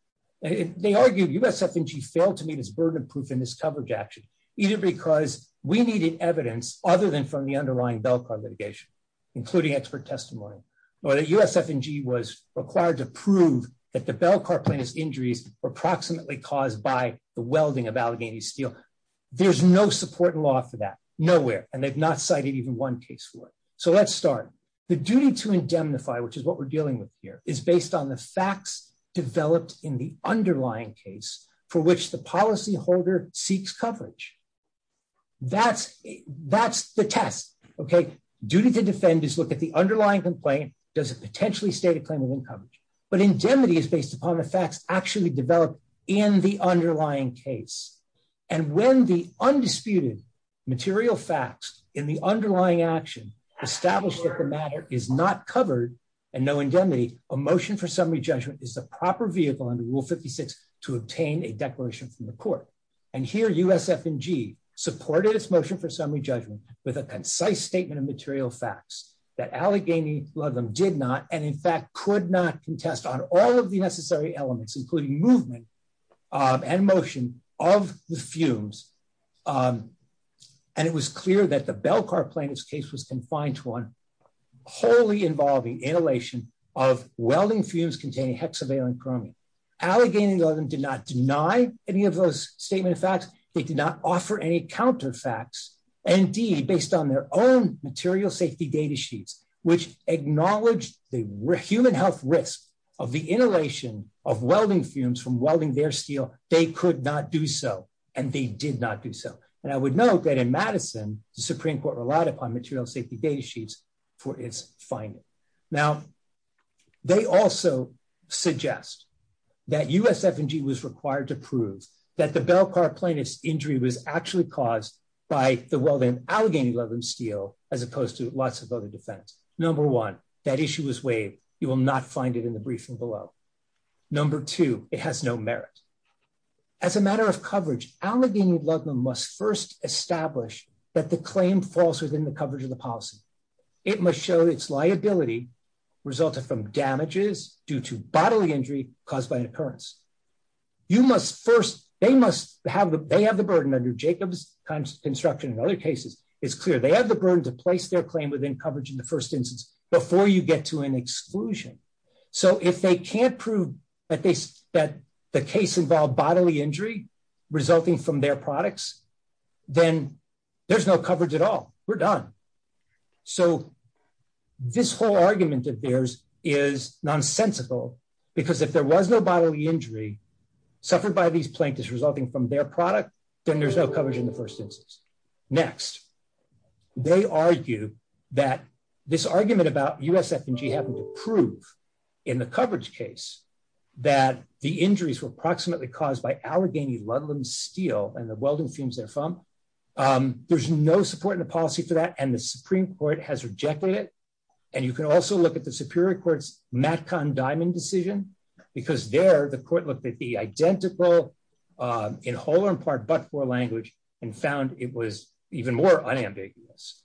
They argued USF&G failed to meet its burden of proof in this coverage action, either because we needed evidence other than from the underlying Belcar litigation, including expert testimony, or that USF&G was required to prove that the Belcar plaintiff's injuries were approximately caused by the welding of Allegheny's steel. There's no support in law for that, nowhere, and they've not cited even one case for it. So let's start. The duty to indemnify, which is what we're dealing with here, is based on the facts developed in the underlying case for which the policyholder seeks coverage. That's, that's the test. Okay, duty to defend is look at the underlying complaint, does it potentially state a claim within coverage, but indemnity is based upon the facts actually developed in the underlying case. And when the undisputed material facts in the underlying action established that the matter is not covered, and no indemnity, a motion for summary judgment is the proper vehicle under Rule 56 to obtain a declaration from the court. And here USF&G supported its motion for summary judgment with a concise statement of material facts that Allegheny Ludlum did not, and in fact could not contest on all of the necessary elements including movement and motion of the fumes. And it was clear that the Belcar plaintiff's case was confined to one wholly involving inhalation of welding fumes containing hexavalent chromium. Allegheny Ludlum did not deny any of those statement of facts. They did not offer any counter facts. And indeed, based on their own material safety data sheets, which acknowledge the human health risk of the inhalation of welding fumes from welding their steel, they could not do so, and they did not do so. And I would note that in Madison, the Supreme Court relied upon material safety data sheets for its finding. Now, they also suggest that USF&G was required to prove that the Belcar plaintiff's injury was actually caused by the welding of Allegheny Ludlum's steel, as opposed to lots of other defense. Number one, that issue was waived. You will not find it in the briefing below. Number two, it has no merit. As a matter of coverage, Allegheny Ludlum must first establish that the claim falls within the coverage of the policy. It must show its liability resulted from damages due to bodily injury caused by an occurrence. They have the burden under Jacobs' construction and other cases. It's clear they have the burden to place their claim within coverage in the first instance before you get to an exclusion. So if they can't prove that the case involved bodily injury resulting from their products, then there's no coverage at all. We're done. So this whole argument of theirs is nonsensical, because if there was no bodily injury suffered by these plaintiffs resulting from their product, then there's no coverage in the first instance. Next, they argue that this argument about USF&G having to prove in the coverage case that the injuries were approximately caused by Allegheny Ludlum's steel and the welding fumes therefrom. There's no support in the policy for that, and the Supreme Court has rejected it. And you can also look at the Superior Court's MatConn-Diamond decision, because there the court looked at the identical, in whole or in part, but-for language, and found it was even more unambiguous.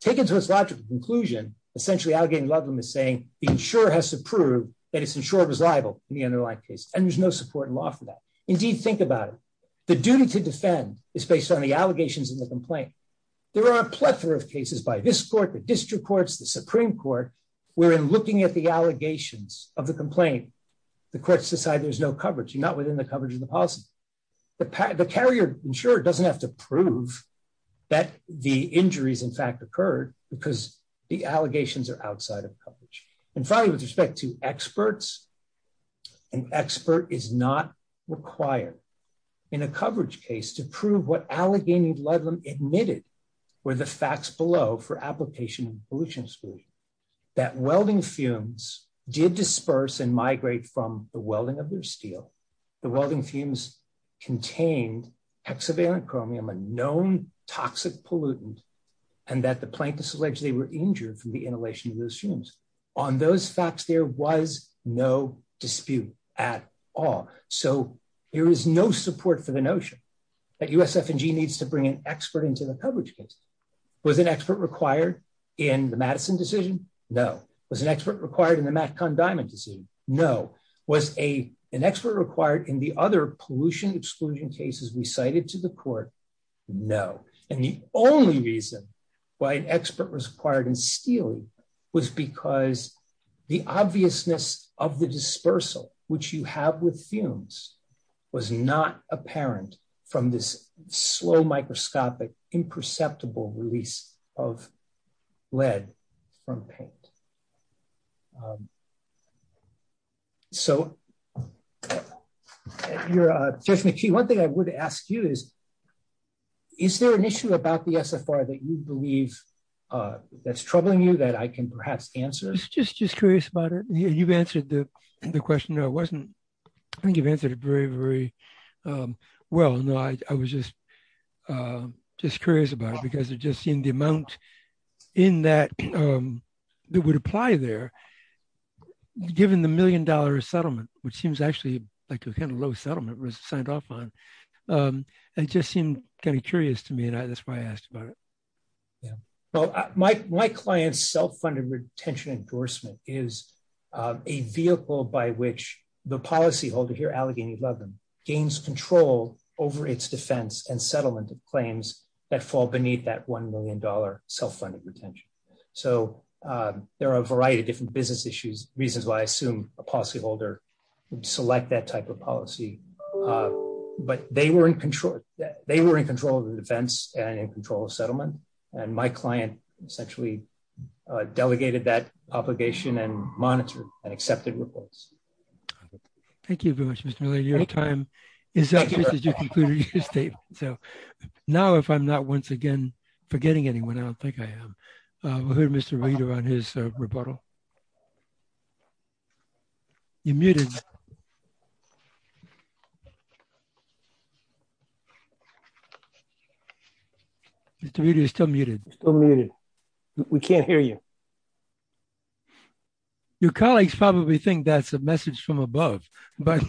Taken to its logical conclusion, essentially Allegheny Ludlum is saying the insurer has to prove that its insurer was liable in the underlying case, and there's no support in law for that. Indeed, think about it. The duty to defend is based on the allegations in the complaint. There are a plethora of cases by this court, the district courts, the Supreme Court, wherein looking at the allegations of the complaint, the courts decide there's no coverage, not within the coverage of the policy. The carrier insurer doesn't have to prove that the injuries, in fact, occurred, because the allegations are outside of coverage. And finally, with respect to experts, an expert is not required in a coverage case to prove what Allegheny Ludlum admitted were the facts below for application of pollution exclusion, that welding fumes did disperse and migrate from the welding of their steel, the welding fumes contained hexavalent chromium, a known toxic pollutant, and that the plaintiffs alleged they were injured from the inhalation of those fumes. On those facts, there was no dispute at all. So there is no support for the notion that USF&G needs to bring an expert into the coverage case. Was an expert required in the Madison decision? No. Was an expert required in the MatConn-Diamond decision? No. Was an expert required in the other pollution exclusion cases recited to the court? No. And the only reason why an expert was required in steel was because the obviousness of the dispersal, which you have with fumes, was not apparent from this slow, microscopic, imperceptible release of lead from paint. So, Judge McKee, one thing I would ask you is, is there an issue about the SFR that you believe that's troubling you that I can perhaps answer? I was just curious about it. You've answered the question. No, I wasn't. I think you've answered it very, very well. No, I was just curious about it because I've just seen the amount that would apply there, given the million dollar settlement, which seems actually like a kind of low settlement was signed off on. It just seemed kind of curious to me and that's why I asked about it. Well, my client's self-funded retention endorsement is a vehicle by which the policyholder here, Allegheny Loveland, gains control over its defense and settlement claims that fall beneath that $1 million self-funded retention. So, there are a variety of different business issues, reasons why I assume a policyholder would select that type of policy. But they were in control of the defense and in control of settlement, and my client essentially delegated that obligation and monitored and accepted reports. Thank you very much, Mr. Miller. Your time is up. Now, if I'm not once again forgetting anyone, I don't think I am, we'll hear Mr. Reeder on his rebuttal. You're muted. Mr. Reeder, you're still muted. Still muted. We can't hear you. Your colleagues probably think that's a message from above, but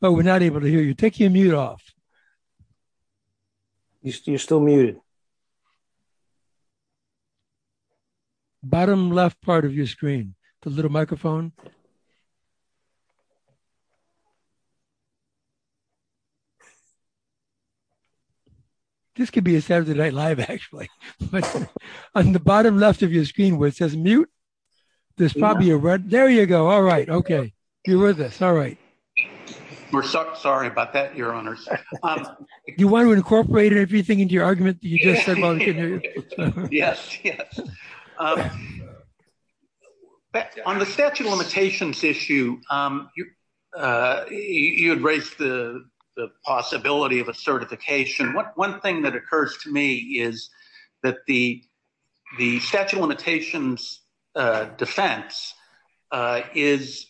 we're not able to hear you. Take your mute off. You're still muted. Bottom left part of your screen, the little microphone. This could be a Saturday Night Live, actually. On the bottom left of your screen where it says mute, there's probably a red. There you go. All right. Okay. You're with us. All right. We're sorry about that, Your Honors. Do you want to incorporate everything into your argument that you just said while we couldn't hear you? Yes, yes. On the statute of limitations issue, you had raised the possibility of a certification. One thing that occurs to me is that the statute of limitations defense is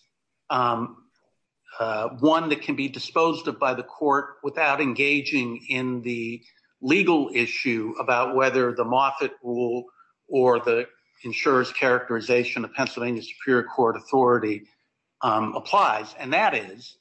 one that can be disposed of by the court without engaging in the legal issue about whether the Moffitt rule or the insurer's characterization of Pennsylvania Superior Court authority applies. And that is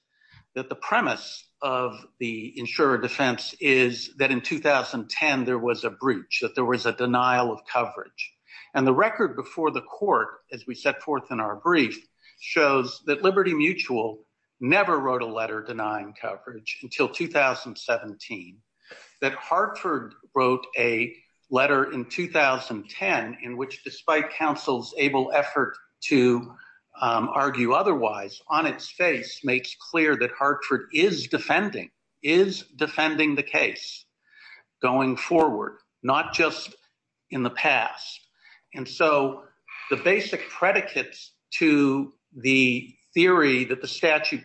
that the premise of the insurer defense is that in 2010, there was a breach, that there was a denial of coverage. And the record before the court, as we set forth in our brief, shows that Liberty Mutual never wrote a letter denying coverage until 2017. That Hartford wrote a letter in 2010, in which despite counsel's able effort to argue otherwise, on its face makes clear that Hartford is defending, is defending the case going forward, not just in the past. And so the basic predicates to the theory that the statute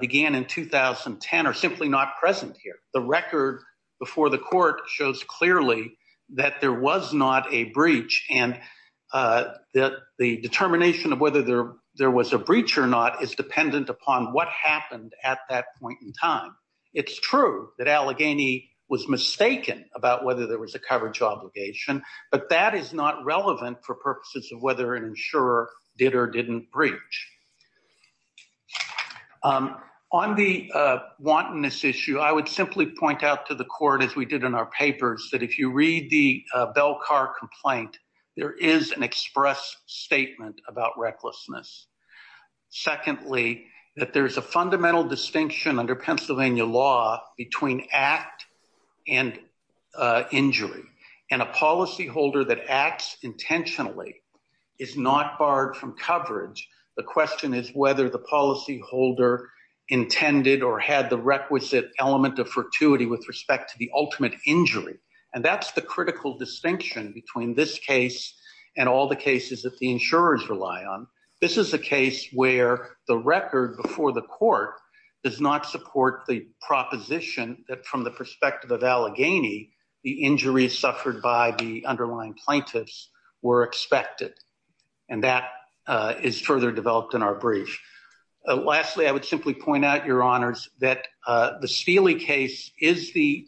began in 2010 are simply not present here. The record before the court shows clearly that there was not a breach and that the determination of whether there was a breach or not is dependent upon what happened at that point in time. It's true that Allegheny was mistaken about whether there was a coverage obligation, but that is not relevant for purposes of whether an insurer did or didn't breach. On the wantonness issue, I would simply point out to the court, as we did in our papers, that if you read the Belcar complaint, there is an express statement about recklessness. Secondly, that there is a fundamental distinction under Pennsylvania law between act and injury, and a policyholder that acts intentionally is not barred from coverage. The question is whether the policyholder intended or had the requisite element of fortuity with respect to the ultimate injury. And that's the critical distinction between this case and all the cases that the insurers rely on. This is a case where the record before the court does not support the proposition that from the perspective of Allegheny, the injuries suffered by the underlying plaintiffs were expected. And that is further developed in our brief. Lastly, I would simply point out, Your Honors, that the Steele case is the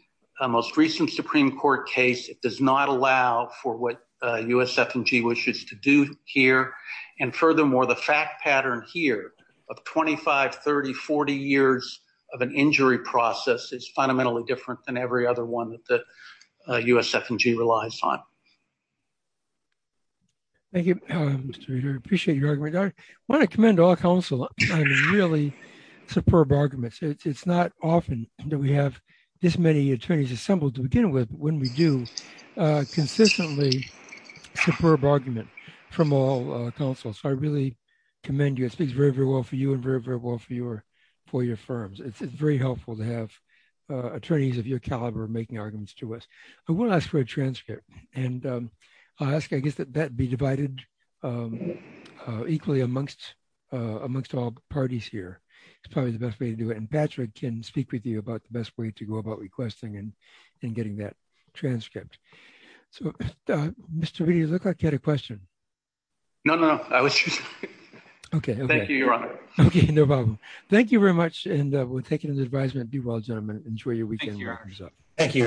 most recent Supreme Court case. It does not allow for what USF&G wishes to do here. And furthermore, the fact pattern here of 25, 30, 40 years of an injury process is fundamentally different than every other one that the USF&G relies on. Thank you, Mr. Reader. I appreciate your argument. I want to commend all counsel on really superb arguments. It's not often that we have this many attorneys assembled to begin with, but when we do, consistently superb argument from all counsel. So I really commend you. It speaks very, very well for you and very, very well for your firms. It's very helpful to have attorneys of your caliber making arguments to us. I will ask for a transcript, and I'll ask, I guess, that that be divided equally amongst all parties here. It's probably the best way to do it. And Patrick can speak with you about the best way to go about requesting and getting that transcript. So, Mr. Reader, you look like you had a question. No, no, no. Thank you, Your Honor. Okay, no problem. Thank you very much, and we'll take it as advisement. Do well, gentlemen. Enjoy your weekend.